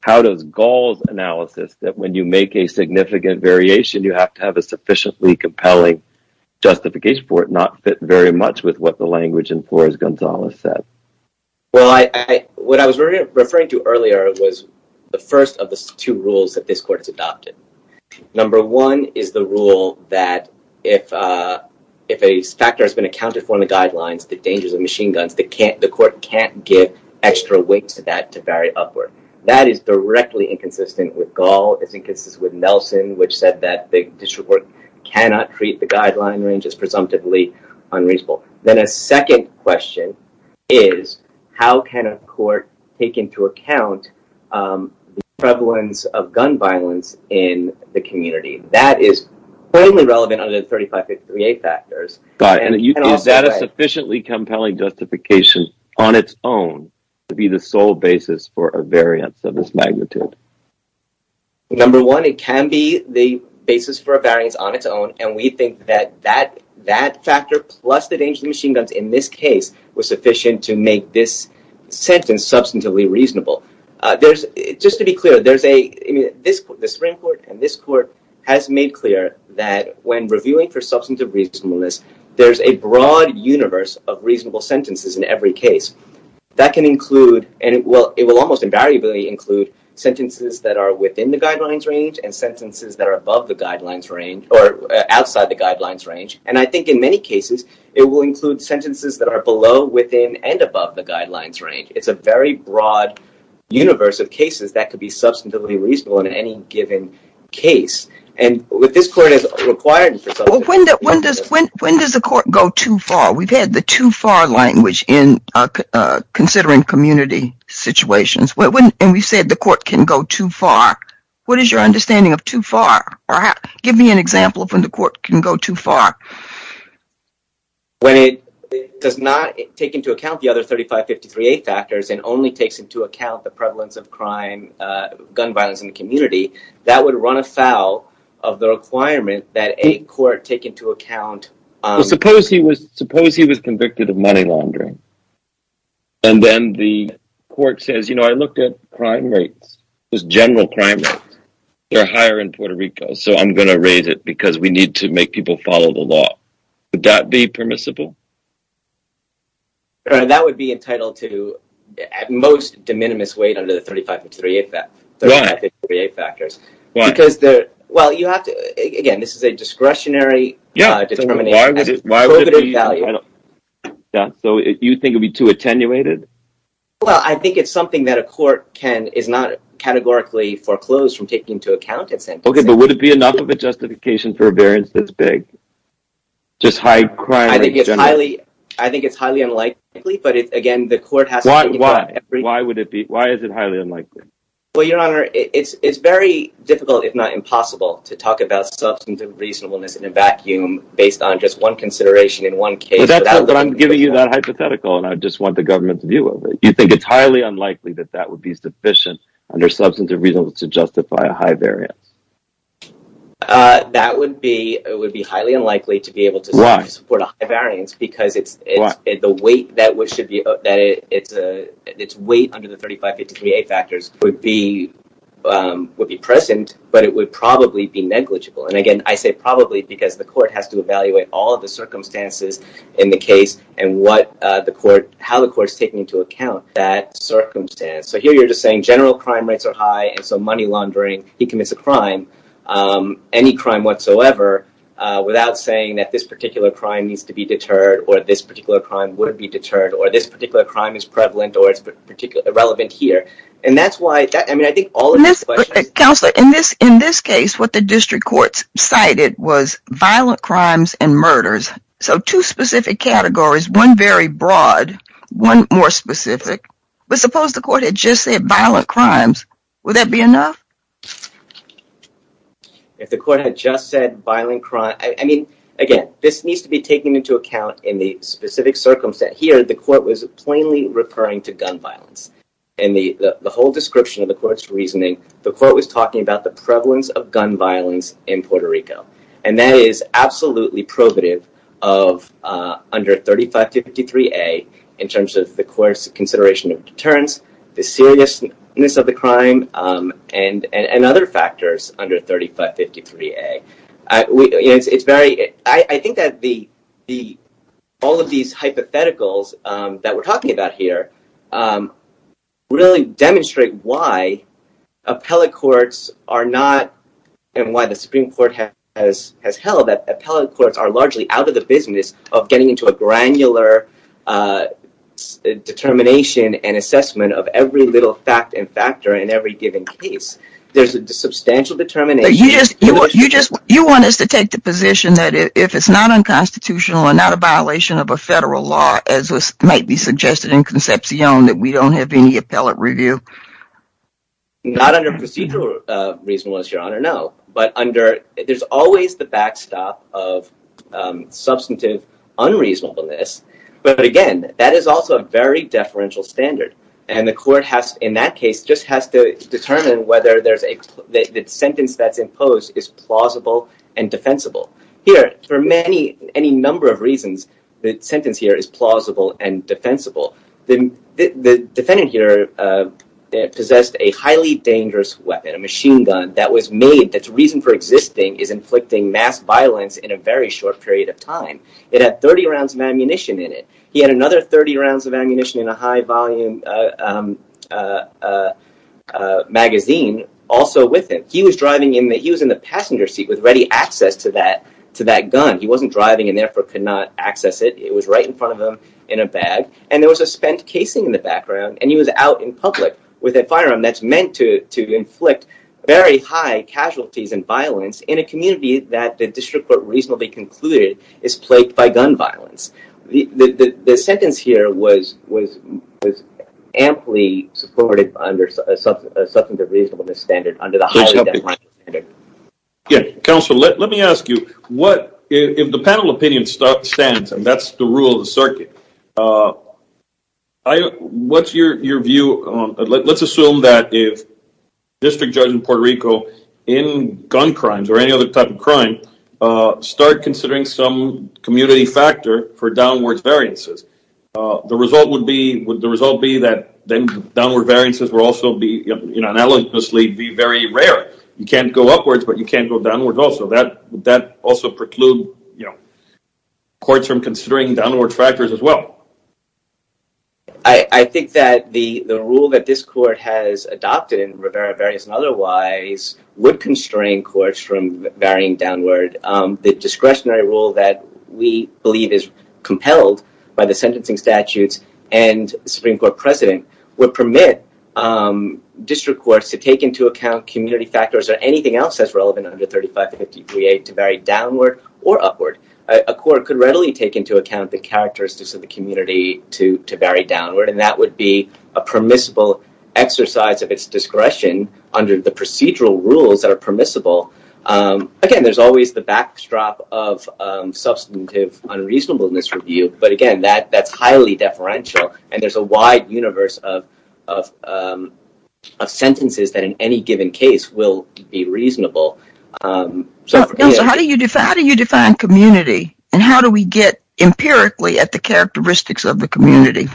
how does Gaul's analysis that when you make a significant variation, you have to have a sufficiently compelling justification for it not fit very much with what the language in Flores-Gonzalez said. Well, what I was referring to earlier was the first of the two rules that this court adopted. Number one is the rule that if a factor has been accounted for in the guidelines the dangers of machine guns, the court can't give extra weight to that to vary upward. That is directly inconsistent with Gaul. It's inconsistent with Nelson, which said that the district court cannot treat the guidelines as presumptively unreasonable. Then a second question is how can a court take into account the prevalence of gun violence in the community? That is totally relevant other than 35, 63A factors. Is that a sufficiently compelling justification on its own to be the sole basis for a variance of this magnitude? Number one, it can be the basis for a variance on its own, and we think that that factor plus the danger of machine guns in this case was sufficient to make this sentence substantively reasonable. Just to be clear, the Supreme Court and this court has made clear that when reviewing for substantive reasonableness, there's a broad universe of reasonable sentences in every case. That can include, and it will almost invariably include, sentences that are within the guidelines range and sentences that are above the guidelines range or outside the guidelines range. I think in many cases, it will include sentences that are below, within, and above the guidelines range. It's a very broad universe of cases that could be substantively reasonable in any given case. With this court, it's required... When does the court go too far? We've had the too far language in considering community situations, and we said the court can go too far. What is your understanding of too far? Give me an example of when the court can go too far. When it does not take into account the other 35, 50, 38 factors and only takes into account the prevalence of crime, gun violence in the community, that would run afoul of the requirement that a court take into account... Suppose he was convicted of money laundering, and then the court says, you know, I looked at crime rates. There's general crime rates. They're higher in Puerto Rico, so I'm going to raise it because we need to make people follow the law. Would that be permissible? That would be entitled to, at most, de minimis weight under the 35, 50, 38 factors. Why? Again, this is a discretionary determination. Why would it be? You think it would be too attenuated? Well, I think it's something that a court can... Okay, but would it be enough of a justification for a variance this big? Just high crime... Why? Why would it be? Why is it highly unlikely? But I'm giving you that hypothetical, and I just want the government's view of it. You think it's highly unlikely that that would be sufficient under substantive reasons to justify a high variance? That would be highly unlikely to be able to support a high variance because the weight that should be... Its weight under the 35, 50, 38 factors would be present, but it would probably be negligible. And again, I say probably because the court has to evaluate all of the circumstances in the case and how the court is taking into account that circumstance. So here you're just saying general crime rates are high, and so money laundering, he commits a crime, any crime whatsoever, without saying that this particular crime needs to be deterred or this particular crime would be deterred or this particular crime is prevalent or is irrelevant here. And that's why... Counselor, in this case, what the district courts cited was violent crimes and murders. So two specific categories, one very broad, one more specific. But suppose the court had just said violent crimes. Would that be enough? If the court had just said violent crimes... I mean, again, this needs to be taken into account in the specific circumstance. Here, the court was plainly referring to gun violence. In the whole description of the court's reasoning, the court was talking about the prevalence of gun violence in Puerto Rico. And that is absolutely probative of under 35, 53A in terms of the court's consideration of deterrence, the seriousness of the crime and other factors under 35, 53A. I think that all of these hypotheticals that we're talking about here really demonstrate why appellate courts are not... and why the Supreme Court has held that appellate courts are largely out of the business of getting into a granular determination and assessment of every little fact and factor in every given case. There's a substantial determination... But you just want us to take the position that if it's not unconstitutional and not a violation of a federal law, as might be suggested in Concepcion, that we don't have any appellate review? Not under procedural reason, Your Honor, no. But under... There's always the backstop of substantive unreasonableness. But again, that is also a very deferential standard. And the court, in that case, just has to determine whether the sentence that's imposed is plausible and defensible. Here, for any number of reasons, the sentence here is plausible and defensible. The defendant here possessed a highly dangerous weapon, a machine gun, that was made... Its reason for existing is inflicting mass violence in a very short period of time. It had 30 rounds of ammunition in it. He had another 30 rounds of ammunition in a high-volume magazine also with him. He was driving... He was in the passenger seat with ready access to that gun. He wasn't driving and therefore could not access it. It was right in front of him in a bag. And there was a spent casing in the background. And he was out in public with a firearm that's meant to inflict very high casualties and violence in a community that the district court reasonably concluded is plagued by gun violence. The sentence here was amply supported under a substantive reasonableness standard under the holiday death penalty. Counsel, let me ask you. If the panel opinion stands and that's the rule of the circuit, what's your view... Let's assume that the district judge in Puerto Rico in gun crimes or any other type of crime start considering some community factor for downward variances. The result would be... Would the result be that then downward variances will also be, you know, analogously be very rare. You can't go upwards but you can't go downwards also. Would that also preclude, you know, courts from considering downward factors as well? I think that the rule that this court has adopted in Rivera Variance and Otherwise would constrain courts from varying downward. The discretionary rule that we believe is compelled by the sentencing statutes and Supreme Court precedent would permit district courts to take into account community factors or anything else as relevant under 3553A to vary downward or upward. A court could readily take into account the characteristics of the community to vary downward and that would be a permissible exercise of its discretion under the procedural rules that are permissible. Again, there's always the backdrop of substantive unreasonableness review but again, that's highly deferential and there's a wide universe of sentences that in any given case will be reasonable. How do you define community and how do we get empirically at the characteristics of the community?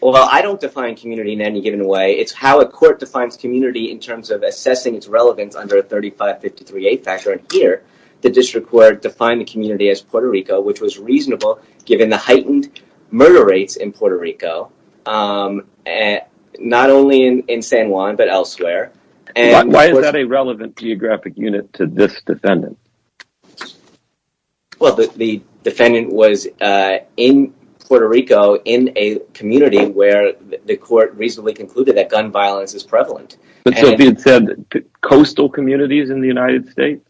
Well, I don't define community in any given way. It's how a court defines community in terms of assessing its relevance under 3553A factor. Here, the district court defined the community as Puerto Rico which was reasonable given the heightened murder rates in Puerto Rico not only in San Juan but elsewhere. Why is that a relevant geographic unit to this defendant? Well, the defendant was in Puerto Rico in a community where the court reasonably concluded that gun violence was prevalent. But the defendant said that coastal communities in the United States?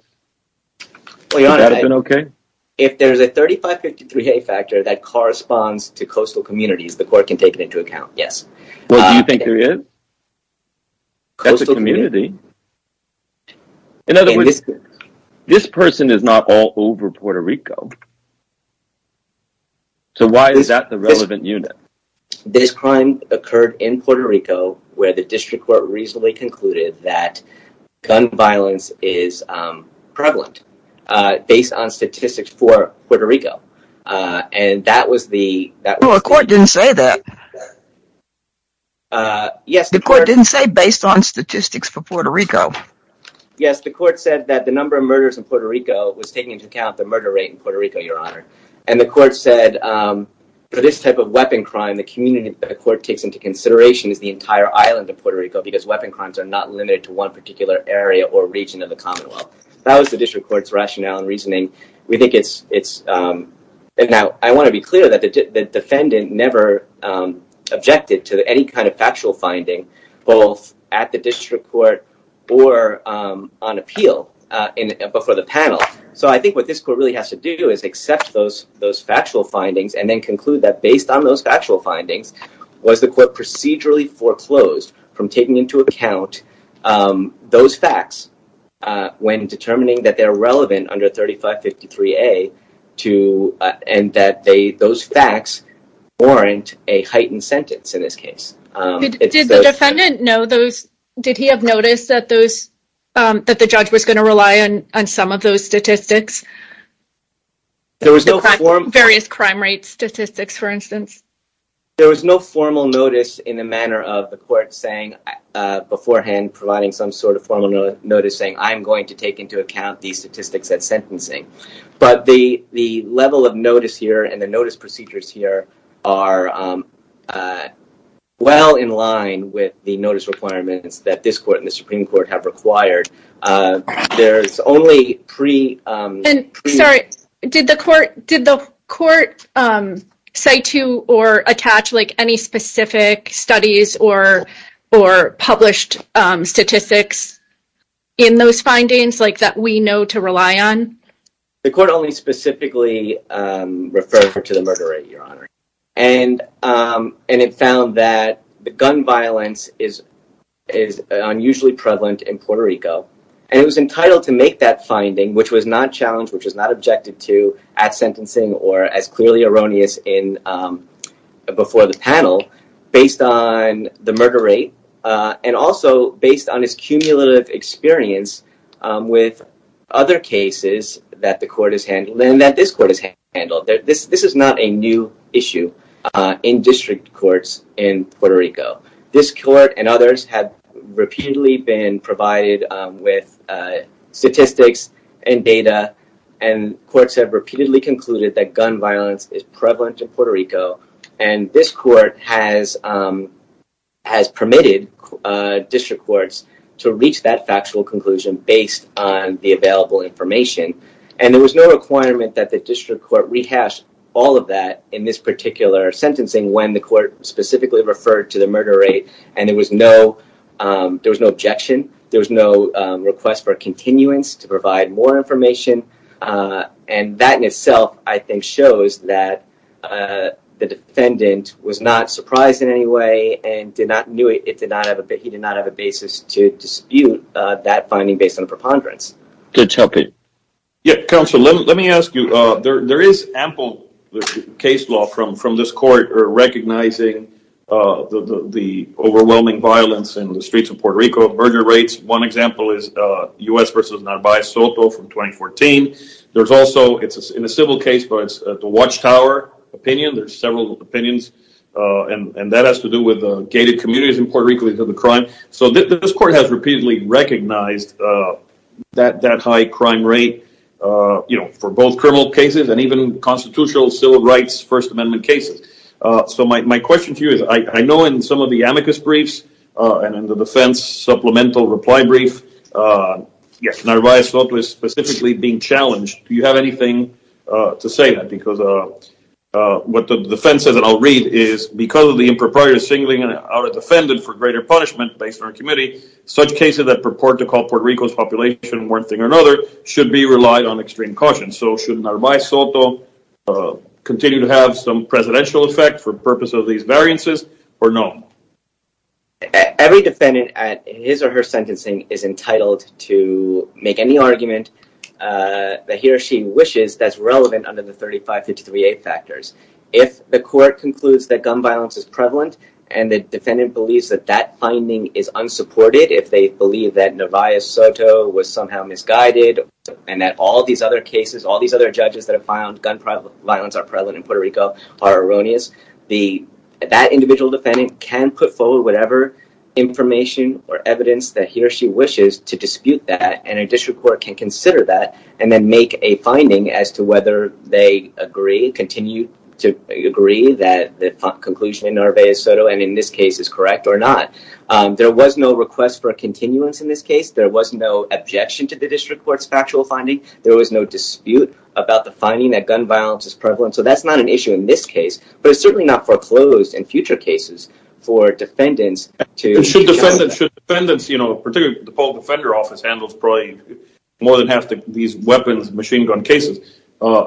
If there's a 3553A factor that corresponds to coastal communities the court can take it into account, yes. Well, do you think there is? That's a community. In other words, this person is not all over Puerto Rico. So why is that the relevant unit? This crime occurred in Puerto Rico where the district court reasonably concluded that gun violence is prevalent based on statistics for Puerto Rico. And that was the... No, the court didn't say that. The court didn't say based on statistics for Puerto Rico. Yes, the court said that the number of murders in Puerto Rico was taking into account the murder rate in Puerto Rico, Your Honor. And the court said for this type of weapon crime the community that the court takes into consideration is the entire island of Puerto Rico because weapon crimes are not limited to one particular area or region of the Commonwealth. That was the district court's rationale and reasoning. We think it's... Now, I want to be clear that the defendant never objected to any kind of factual finding both at the district court or on appeal before the panel. So I think what this court really has to do is accept those factual findings and then conclude that based on those factual findings was the court procedurally foreclosed from taking into account those facts when determining that they're relevant under 3553A and that those facts warrant a heightened sentence in this case. Did the defendant know those... Did he have noticed that those... that the judge was going to rely on some of those statistics? There was no... Various crime rate statistics, for instance. There was no formal notice in the manner of the court saying beforehand providing some sort of formal notice saying I'm going to take into account these statistics at sentencing. But the level of notice here and the notice procedures here are well in line with the notice requirements that this court and the Supreme Court have required. There's only pre... Sorry. Did the court say to or attach any specific studies or published statistics in those findings that we know to rely on? The court only specifically referred her to the murder rate, Your Honor. And it found that the gun violence is unusually prevalent in Puerto Rico. And it was entitled to make that finding which was not challenged, which was not objected to at sentencing or as clearly erroneous in... before the panel based on the murder rate and also based on its cumulative experience with other cases that the court has handled and that this court has handled. This is not a new issue in district courts in Puerto Rico. This court and others have repeatedly been provided with statistics and data and courts have repeatedly concluded that gun violence is prevalent in Puerto Rico. And this court has permitted district courts to reach that factual conclusion based on the available information. And there was no requirement that the district court rehash all of that in this particular sentencing when the court specifically referred to the murder rate. And there was no objection. There was no request for a continuance to provide more information. And that in itself, I think, shows that the defendant was not surprised in any way and he did not have a basis to dispute that finding based on a preponderance. Judge, help me. Yeah, counsel, let me ask you. There is ample case law from this court recognizing the overwhelming violence in the streets of Puerto Rico of murder rates. One example is U.S. v. Navajo Soto from 2014. There's also, in a civil case, the Watchtower opinion. There's several opinions. And that has to do with gated communities in Puerto Rico because of the crime. So this court has repeatedly recognized that high crime rate for both criminal cases and even constitutional civil rights First Amendment cases. So my question to you is, I know in some of the amicus briefs and in the defense supplemental reply brief, Navajo Soto is specifically being challenged. Do you have anything to say to that? Because what the defense said, and I'll read, is because of the impropriety of singling out a defendant for greater punishment based on our committee, such cases that purport to call Puerto Rico's population one thing or another should be relied on extreme caution. So should Navajo Soto continue to have some presidential effect for purpose of these variances, or no? Every defendant, in his or her sentencing, is entitled to make any argument that he or she wishes that's relevant under the 35-53A factors. If the court concludes that gun violence is prevalent and the defendant believes that that finding is unsupported, if they believe that Navajo Soto was somehow misguided, and that all these other cases, all these other judges that have found gun violence are prevalent in Puerto Rico, are erroneous, that individual defendant can put forward whatever information or evidence that he or she wishes to dispute that, and a district court can consider that and then make a finding as to whether they agree, continue to agree, that the conclusion in Navajo Soto, and in this case, is correct or not. There was no request for a continuance in this case. There was no objection to the district court's factual finding. There was no dispute about the finding that gun violence is prevalent. So that's not an issue in this case. But it's certainly not foreclosed in future cases for defendants to... Should defendants, you know, particularly the full defender office handles probably more than half of these weapons, machine gun cases.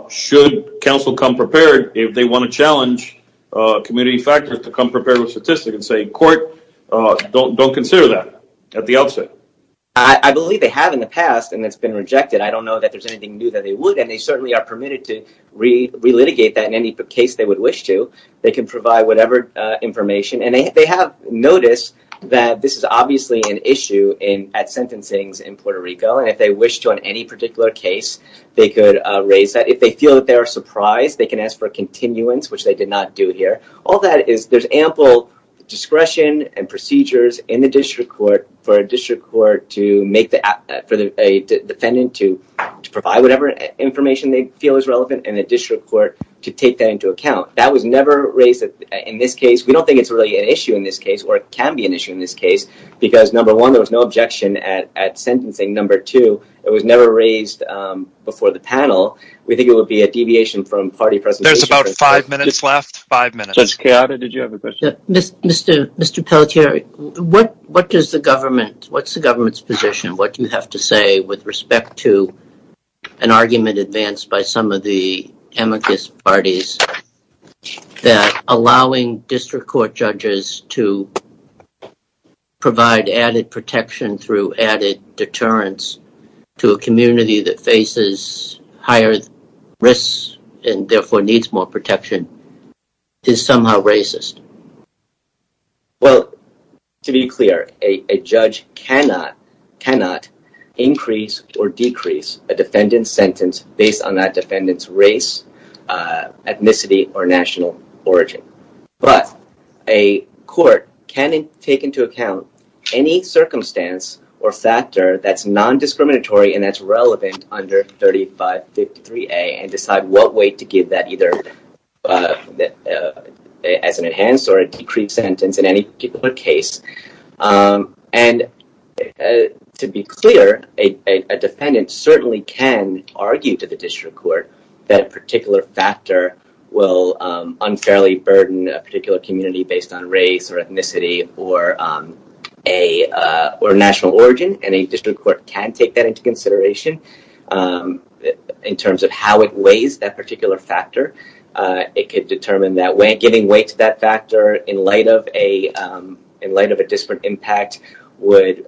Should counsel come prepared if they want to challenge community factors to come prepared with statistics and say, court, don't consider that. That's the opposite. I believe they have in the past and it's been rejected. I don't know that there's anything new that they would. And they certainly are permitted to re-litigate that in any case they would wish to. They can provide whatever information. And they have noticed that this is obviously an issue at sentencing in Puerto Rico. And if they wish to on any particular case, they could raise that. If they feel that they are surprised, they can ask for a continuance, which they did not do here. All that is... There's ample discretion and procedures in the district court for a district court to make the... for a defendant to provide whatever information they feel is relevant in the district court to take that into account. That was never raised in this case. We don't think it's really an issue in this case or it can be an issue in this case because, number one, there was no objection at sentencing. Number two, it was never raised before the panel. We think it would be a deviation from party presentation. There's about five minutes left. Five minutes. Judge Carado, did you have a question? Mr. Pelletier, what does the government... What's the government's position? What do you have to say with respect to an argument advanced by some of the amicus parties that allowing district court judges to provide added protection through added deterrence to a community that faces higher risks and, therefore, needs more protection is somehow racist? Well, to be clear, a judge cannot... cannot increase or decrease a defendant's sentence based on that defendant's race, ethnicity, or national origin. But a court can take into account any circumstance or factor that's non-discriminatory and that's relevant under 3553A and decide what way to give that, either as an enhanced or a decreased sentence in any particular case. And, to be clear, a defendant certainly can argue to the district court that a particular factor will unfairly burden a particular community based on race or ethnicity or national origin, and a district court can take that into consideration that particular factor. It could determine that giving weight to that factor in light of a... in light of a disparate impact would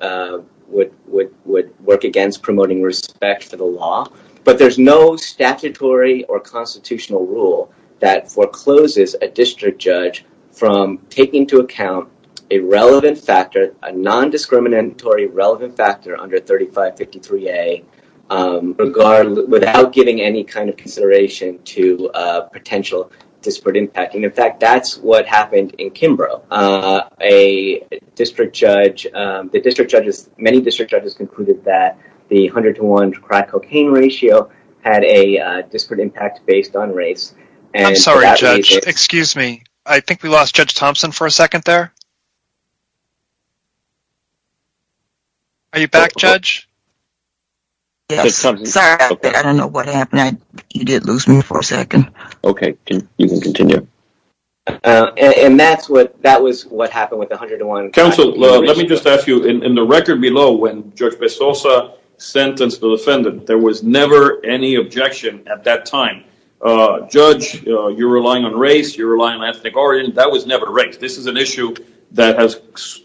work against promoting respect for the law. But there's no statutory or constitutional rule that forecloses a district judge from taking into account a relevant factor, a non-discriminatory, relevant factor under 3553A without giving any kind of consideration to potential disparate impact. In fact, that's what happened in Kimbrough. A district judge... The district judges... Many district judges concluded that the 101 to crack cocaine ratio had a disparate impact based on race. I'm sorry, Judge. Excuse me. I think we lost Judge Thompson for a second there. Are you back, Judge? Yes, sir. I don't know what happened. You did lose me for a second. Okay, you can continue. And that's what... That was what happened with the 101... Counsel, let me just ask you. In the record below, when Judge Pesosa sentenced the defendant, there was never any objection at that time. Judge, you're relying on race. You're relying on ethnic origins. That was never the case. This is an issue that has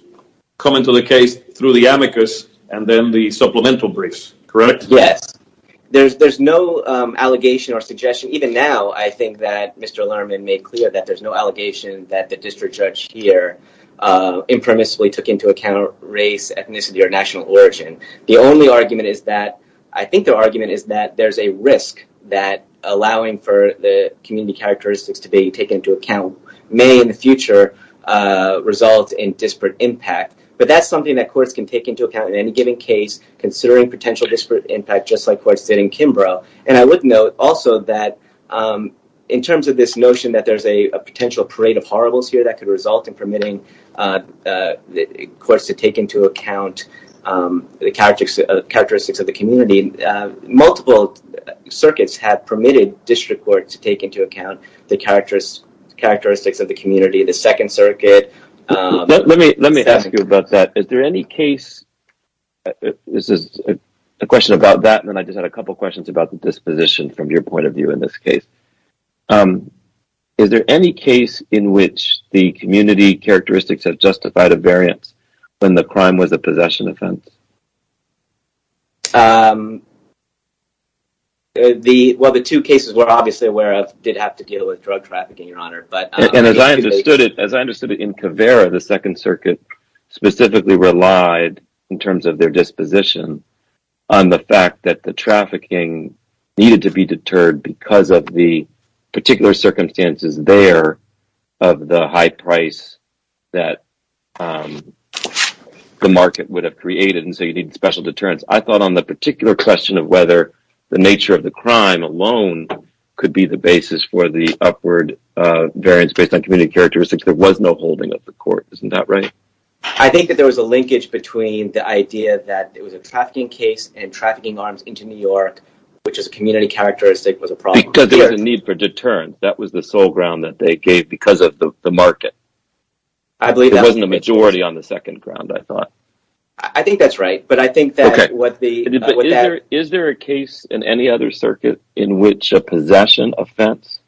come into the case through the amicus and then the supplemental briefs. Correct? Yes. There's no allegation or suggestion. Even now, I think that Mr. Lerman made clear that there's no allegation that the district judge here impermissibly took into account race, ethnicity, or national origin. The only argument is that... I think the argument is that there's a risk that allowing for the community characteristics to be taken into account may in the future result in disparate impact. But that's something that courts can take into account in any given case considering potential disparate impact just like courts did in Kimbrough. And I would note also that in terms of this notion that there's a potential parade of horribles here that could result in permitting courts to take into account the characteristics of the community, multiple circuits have permitted district courts to take into account the characteristics of the community. The Second Circuit... Let me ask you about that. Is there any case... This is a question about that and then I just had a couple questions about the disposition from your point of view in this case. Is there any case in which the community characteristics have justified a variance when the crime was a possession offense? Well, the two cases were obviously where I did have to deal with drug trafficking, Your Honor. And as I understood it, in Caveira, the Second Circuit specifically relied in terms of their disposition on the fact that the trafficking needed to be deterred because of the particular circumstances there of the high price that the market would have created and so you need special deterrence. I thought on the particular question of whether the nature of the crime alone could be the basis for the upward variance based on community characteristics, there was no holding of the court. Isn't that right? I think that there was a linkage between the idea that it was a trafficking case and trafficking arms into New York, which is a community characteristic was a problem. Because there was a need for deterrence. That was the sole ground that they gave because of the market. I believe that. There wasn't a majority on the second ground, I thought. I think that's right, but I think that what the... Is there a case in any other circuit in which a possession offense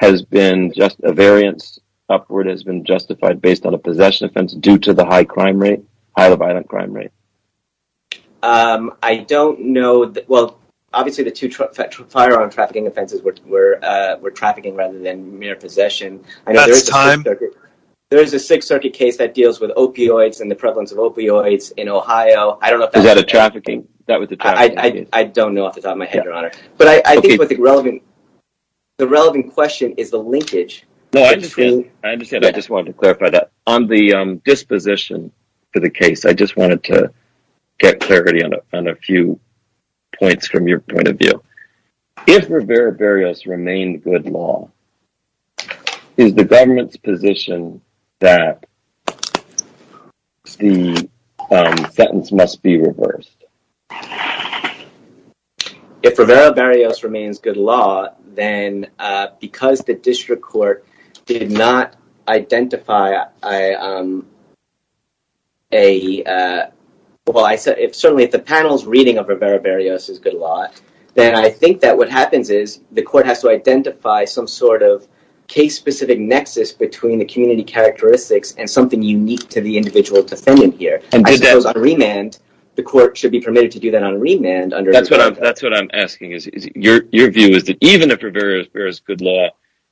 has been just a variance upward has been justified based on a possession offense due to the high crime rate, high divided crime rate? I don't know. Well, obviously, the two firearm trafficking offenses were trafficking rather than mere possession. Is that a time? There is a Sixth Circuit case that deals with opioids and the prevalence of opioids in Ohio. Is that a trafficking? I don't know off the top of my head, Your Honor. But I think the relevant question is the linkage. I understand. I just wanted to clarify that. On the disposition to the case, I just wanted to get clarity on a few points from your point of view. If Rivera-Barrios remained good law, is the government's position that the sentence must be reversed? If Rivera-Barrios remains good law, then because the district court did not identify a... Well, certainly, if the panel's reading of Rivera-Barrios is good law, then I think that what happens is the court has to identify some sort of case-specific nexus between the community characteristics and something unique to the individual defendant here. I suppose on remand, the court should be permitted to do that on remand. That's what I'm asking. Your view is that even if Rivera-Barrios is good law,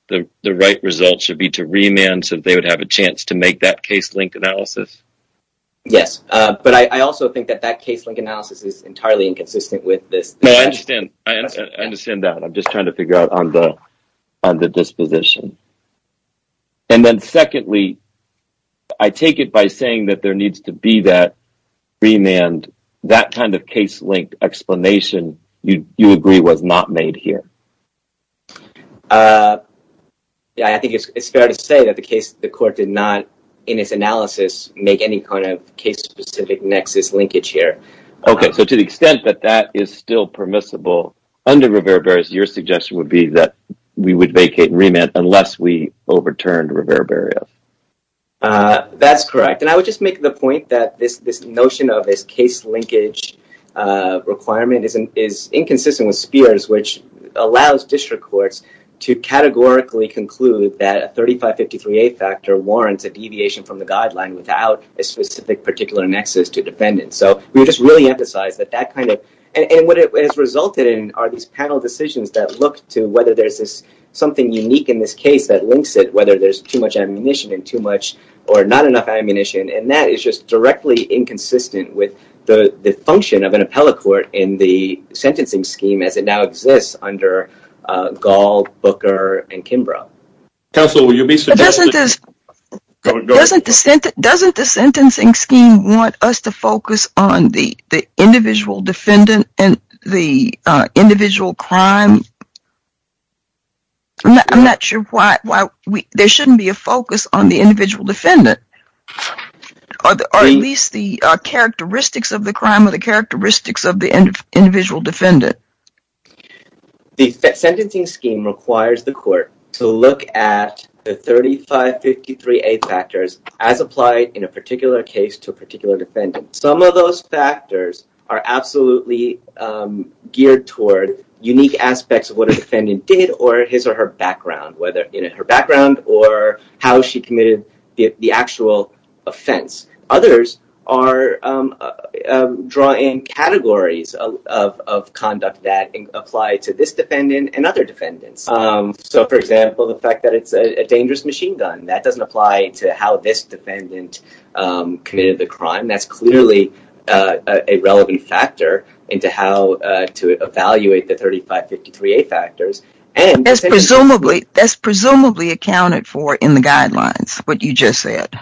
the right result should be to remand since they would have a chance to make that case-linked analysis? Yes. But I also think that that case-linked analysis is entirely inconsistent with the... No, I understand. I understand that. I'm just trying to figure out on the disposition. And then, secondly, I take it by saying that there needs to be that remand. That kind of case-linked explanation, you agree, was not made here. I think it's fair to say that the court did not, in its analysis, make any kind of case-specific nexus linkage here. Okay, so to the extent that that is still permissible under Rivera-Barrios, your suggestion would be that we would vacate remand unless we overturned Rivera-Barrios. That's correct. And I would just make the point that this notion of a case-linkage requirement is inconsistent with Spears, which allows district courts to categorically conclude that a 3553A factor warrants a deviation from the guideline without a specific particular nexus to defend it. So we just really emphasize that that kind of... And what it has resulted in are these panel decisions that look to whether there's something unique in this case that links it, whether there's too much ammunition and too much or not enough ammunition. And that is just directly inconsistent with the function of an appellate court in the sentencing scheme as it now exists under Gall, Booker, and Kimbrough. Counsel, will you be suggesting... Doesn't the sentencing scheme want us to focus on the individual defendant and the individual crime? I'm not sure why there shouldn't be a focus on the individual defendant or at least the characteristics of the crime or the characteristics of the individual defendant. The sentencing scheme requires the court to look at the 3553A factors as applied in a particular case to a particular defendant. Some of those factors are absolutely geared toward unique aspects of what a defendant did or his or her background, whether it's her background or how she committed the actual offense. Others draw in categories of conduct that apply to this defendant and other defendants. So, for example, the fact that it's a dangerous machine gun, that doesn't apply to how this defendant committed the crime. That's clearly a relevant factor into how to evaluate the 3553A factors. That's presumably accounted for in the guidelines, what you just said.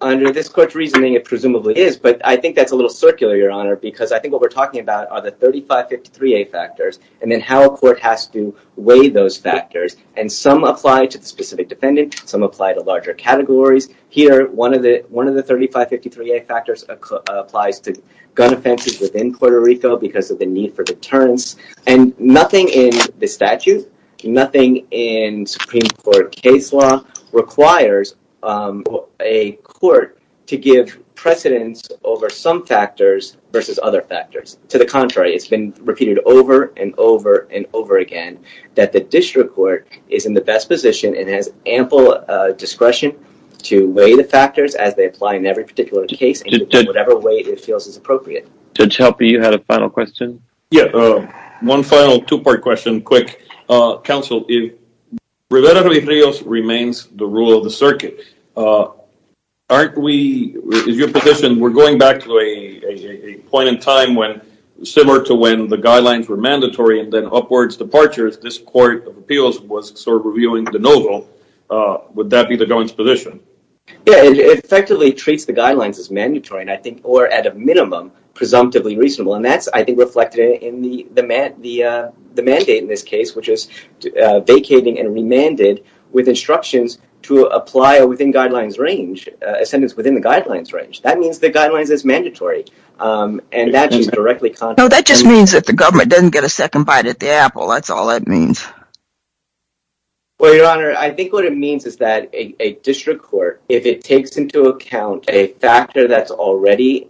Under this court's reasoning, it presumably is, but I think that's a little circular, Your Honor, because I think what we're talking about are the 3553A factors and then how a court has to weigh those factors. Some apply to the specific defendant. Some apply to larger categories. Here, one of the 3553A factors applies to gun offenses within Puerto Rico because of the need for deterrence. Nothing in the statute, nothing in Supreme Court case law requires a court to give precedence over some factors versus other factors. To the contrary, it's been repeated over and over and over again that the district court is in the best position and has ample discretion to weigh the factors as they apply in every particular case in whatever way it feels is appropriate. Judge Halper, you had a final question? Yes. One final two-part question, quick. Counsel, if Rivera-Rodriguez remains the rule of the circuit, aren't we, in your position, we're going back to a point in time similar to when the guidelines were mandatory and then upwards departures, this court feels was sort of revealing the no-go. Would that be the government's position? Yes. It effectively treats the guidelines as mandatory and I think, or at a minimum, presumptively reasonable and that's, I think, reflected in the mandate in this case which is vacating and remanded with instructions to apply within guidelines range, a sentence within the guidelines range. That means the guidelines is mandatory and that is directly contrary. No, that just means that the government doesn't get a second bite at the apple. That's all that means. Well, Your Honor, I think what it means is that a district court, if it takes into account a factor that's already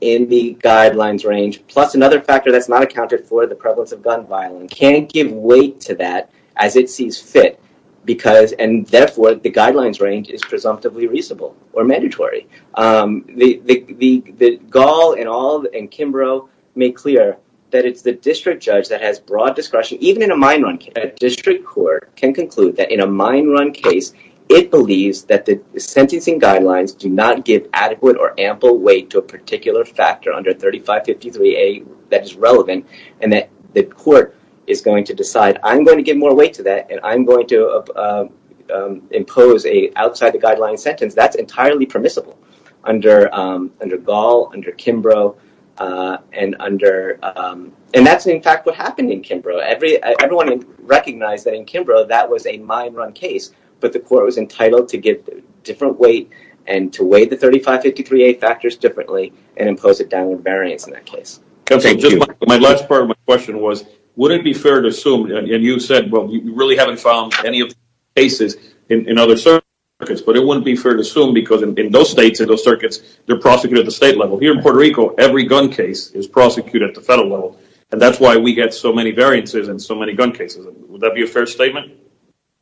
in the guidelines range plus another factor that's not accounted for, the prevalence of gun violence, can't give weight to that as it seems fit because, and therefore, the guidelines range is presumptively reasonable or mandatory. Gall and Ald and Kimbrough make clear that it's the district judge that has broad discretion, even in a mine run case. A district court can conclude that in a mine run case, it believes that the sentencing guidelines do not give adequate or ample weight to a particular factor under 3553A that's relevant and that the court is going to decide, I'm going to give more weight to that and I'm going to impose an outside the guidelines sentence. That's entirely permissible under Gall, under Kimbrough, and under, and that's in fact what happened in Kimbrough. Everyone recognized that in Kimbrough that was a mine run case, but the court was entitled to give different weight and to weigh the 3553A factors differently and impose a down variance on that case. My last part of my question was, would it be fair to assume, and you said, well, you really haven't found any of these cases in other circuits, but it wouldn't be fair to assume because in those states and those circuits, they're prosecuted at the state level. Here in Puerto Rico, every gun case is prosecuted at the federal level and that's why we get so many variances in so many gun cases. Would that be a fair statement?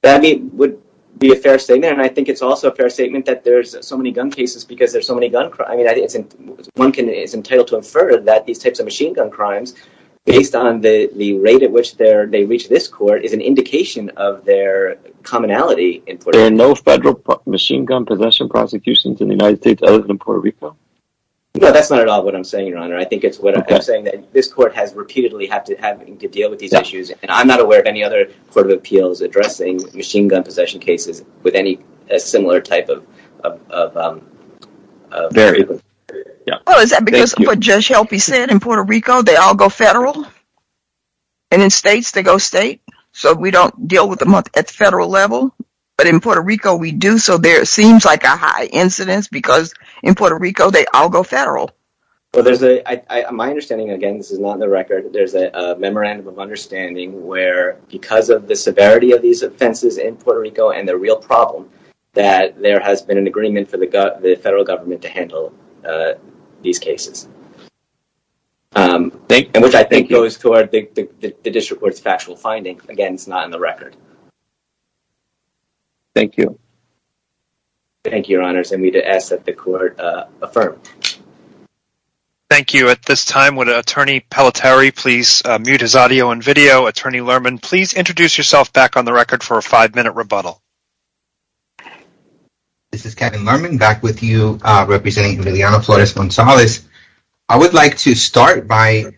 I mean, it would be a fair statement and I think it's also a fair statement that there's so many gun cases because there's so many gun crimes. I mean, one can, it's entitled to infer that these types of machine gun crimes, based on the rate at which they reach this court, is an indication of their commonality in Puerto Rico. There are no federal machine gun possession prosecutions in the United States other than Puerto Rico? No, that's not at all what I'm saying, Your Honor. I think it's what I'm saying that this court has repeatedly had to deal with these issues and I'm not aware of any other court of appeals addressing machine gun possession cases with any similar type of variances. Well, is that because what Jeff Shelby said in Puerto Rico, they all go federal and in states they go state so we don't deal with them at the federal level but in Puerto Rico we do so there seems like a high incidence because in Puerto Rico they all go federal. Well, there's a, my understanding, again, this is not in the record, there's a memorandum of understanding where because of the severity of these offenses in Puerto Rico and the real problem that there has been an agreement for the federal government to handle these cases. Thank you. Which I think goes to the district court's factual findings. Again, it's not in the record. Thank you. Thank you, your honors. I need to ask that the court affirm. Thank you. At this time would attorney Palatari please mute his audio and video. Attorney Lerman, please introduce yourself back on the record for a five minute rebuttal. This is Kevin Lerman back with you representing Liliana Flores-Gonzalez I would like to start by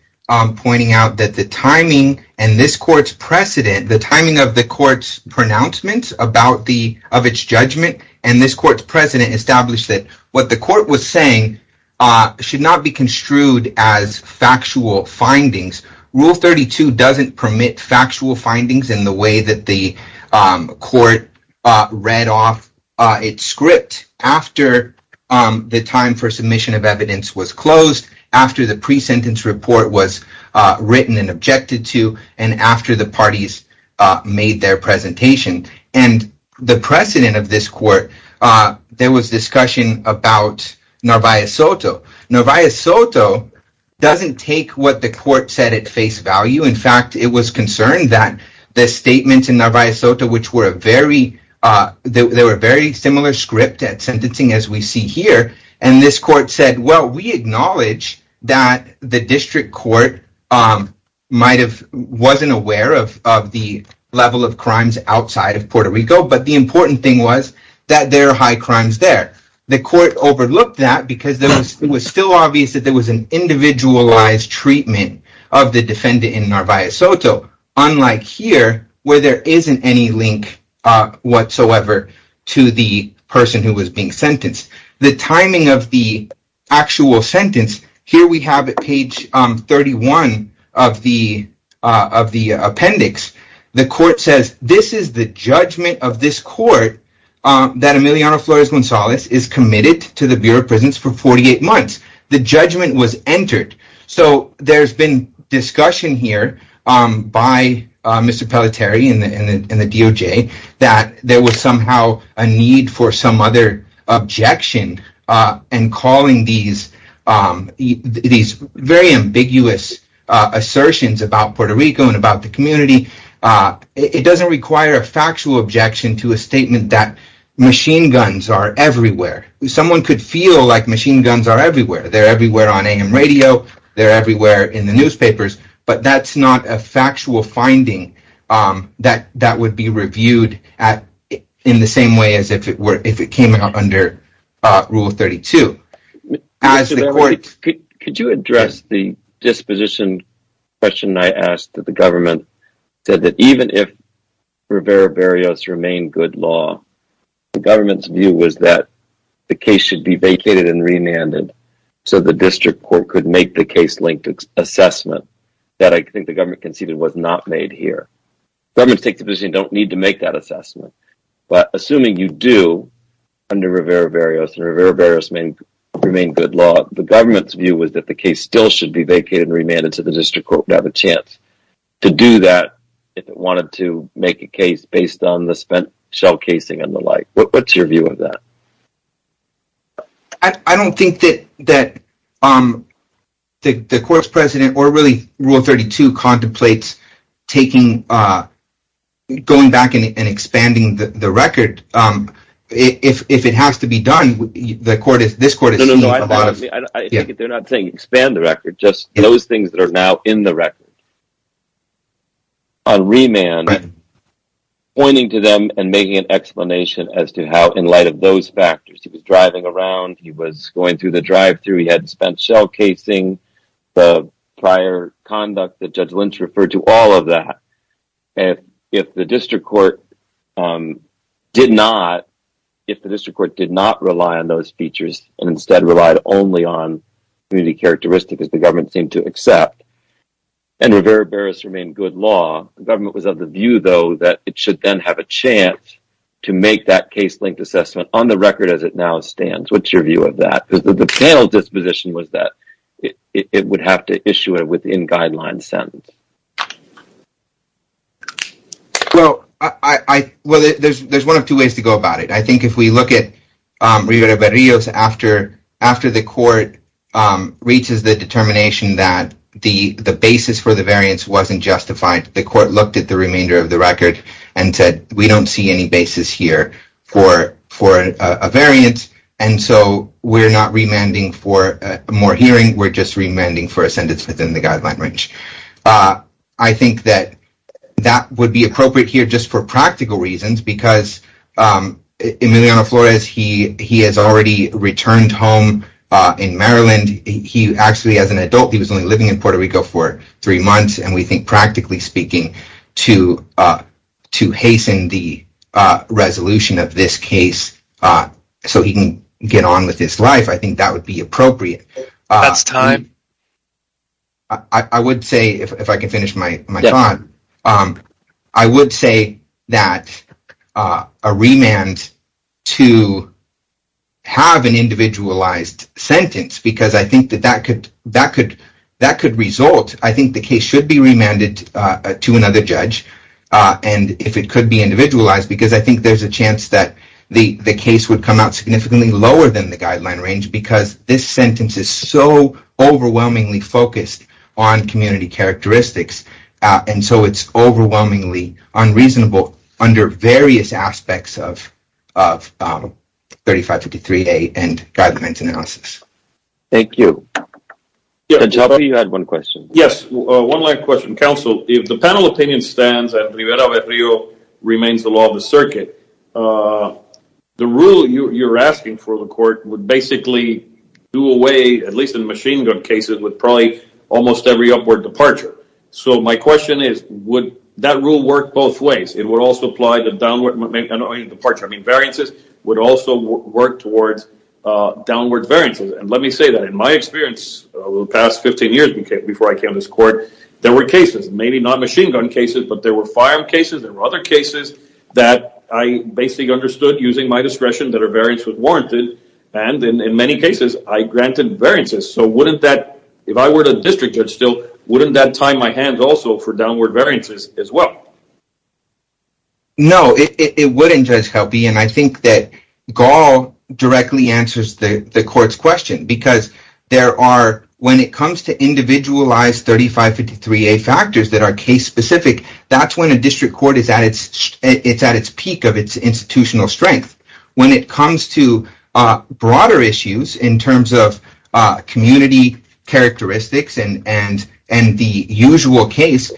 pointing out that the timing and this court's precedent, the timing of the court's pronouncement about the of its judgment and this court's precedent established that what the court was saying should not be construed as factual findings. Rule 32 doesn't permit factual findings in the way that the court read off its script after the time for submission of evidence was closed, after the pre-sentence report was written and objected to and after the parties made their presentation. And the precedent of this court, there was discussion about Narvaez Soto. Narvaez Soto doesn't take what the court said at face value. In fact, it was concerned that the statements in Narvaez Soto which were very similar script at sentencing as we see here, and this court said well, we acknowledge that the district court might have wasn't aware of the level of crimes outside of Puerto Rico but the important thing was that there are high crimes there. The court overlooked that because it was still obvious that there was an individualized treatment of the defendant in Narvaez Soto unlike here where there isn't any link whatsoever to the person who was being sentenced. The timing of the actual sentence, here we have page 31 of the appendix. The court says this is the judgment of this defendant. defendant was sentenced but the defendant was entered. There's been discussion here by the DOJ that there was somehow a need for some other objection and calling these very ambiguous assertions about Puerto Rico and about the community. It doesn't require a These cases are everywhere. They're playing on radio and newspapers. That's not a factual finding that would be reviewed in the same way as if it came under rule 32. Could you address the disposition question I ask that the government said that the case should be vacated and remanded so the district court could make the case linked assessment that I think the government conceded was not made here. Governments don't need to make that assessment. Assuming you do, the government's view is that the case should be vacated and remanded so the district court could have a chance to do that if it wanted to make a case based on the shell casing and the like. What's your view of that? I don't think that the court's president or rule 32 contemplates going back and expanding the record. If it has to be done, this court is not going to expand the record. Those things that are now in the record on remand pointing to them and making an explanation as to how in light of those factors, driving around, going through the drive-thru, spent shell casing, the prior conduct that Judge Lynch referred to, all of that. If the district court did not rely on those features and instead relied only on community characteristics the government seemed to accept, the government was of the view that it should have a chance to make that case-length assessment on the record as it now stands. What's your view of that? It would have to issue it within guidelines. There's one or two ways to go about it. I think if we look at after the court reaches the determination that the basis for the variance wasn't justified, the court looked at the remainder of the record and said we don't see any basis here for a variance, so we're not remanding for more hearing, we're just remanding for a sentence within the guideline range. I think that would be appropriate here for practical reasons because Emiliano Flores has already returned home in Maryland. As an adult he was only living in Puerto Rico for three months and we think practically speaking to hasten the resolution of this case so that he can get on with his life, I think that would be appropriate. I would say if I can finish my thought, I would say that a remand to have an individualized sentence because I think that that could result, I think the case should be remanded to another judge and if it could be individualized because I think that would be appropriate. I would say that the have an result, I think the case should be remanded to another judge and if it could be individualized because I think that that could result, I think the case should be remanded to another judge and it could be individualized because I think the case should be remanded judge and be individualized because I think the case should be remanded to another judge and if it could be individualized because I think the case should be remanded to another judge and if it could individualized the be individualized because I think the case should be remanded to another judge and it could be individualized because I have never like this before. In terms of community characteristics and the usual case,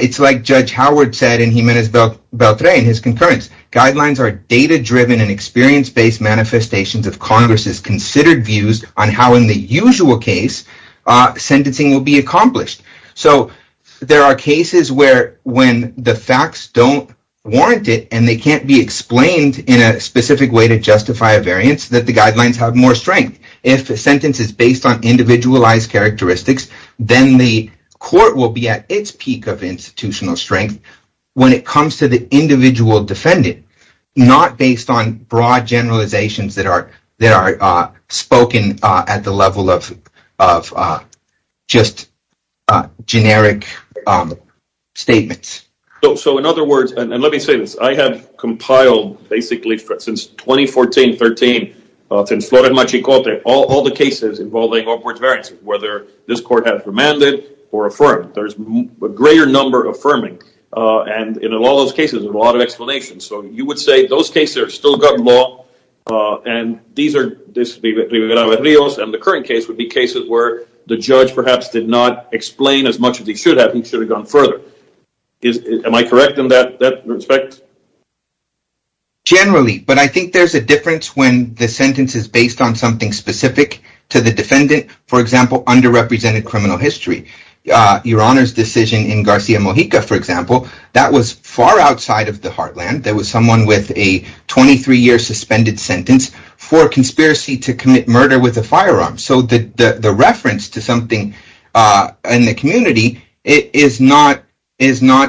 it's like judge Howard said in his concerns. Guidelines are data-driven and experience-based manifestations of Congress's views on how in the usual case sentencing will be accomplished. There are cases where when the facts don't warrant it and they can't be explained in a specific way to justify a variance, the guidelines have more strength. If the sentence is based on individualized characteristics, then the court will be at its peak of institutional strength. When it comes to the generic statements. In other words, I have since 2014-13 all the cases involving variances, whether this court has demanded or affirmed. There's a greater number affirming. Those cases have still gotten long. The current case would be cases where the judge did not explain as much as he should have. Am I correct in that respect? Generally. I think there's a difference when the sentence is based on something specific to the defendant. Your Honor's decision in Garcia was based on the firearm. The reference to something in the community is not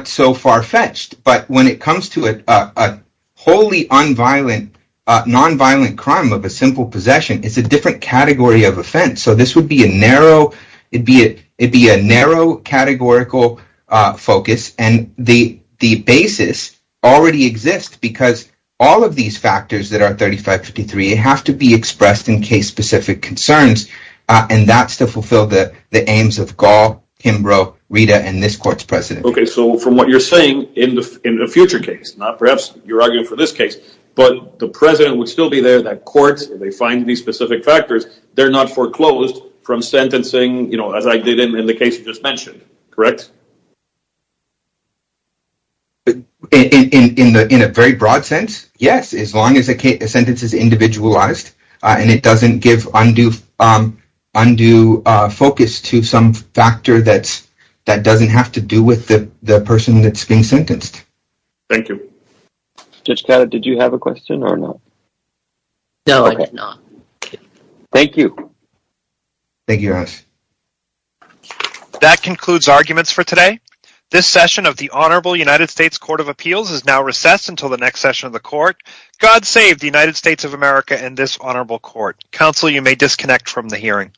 so far-fetched. When it comes to a wholly nonviolent crime of a simple possession, it's a different category of offense. This would be a narrow categorical focus. The basis already stated in the case is that the defendant should not be subject to any specific factors. The defendant should not be subject to any specific factors. The defendant should not be subject to any unconditional or undue focus to some factors that doesn't have to do with the person being sentenced. Thank you. That concludes arguments for today. This session of the Honorable United States Court of Appeals will disconnect from the hearing.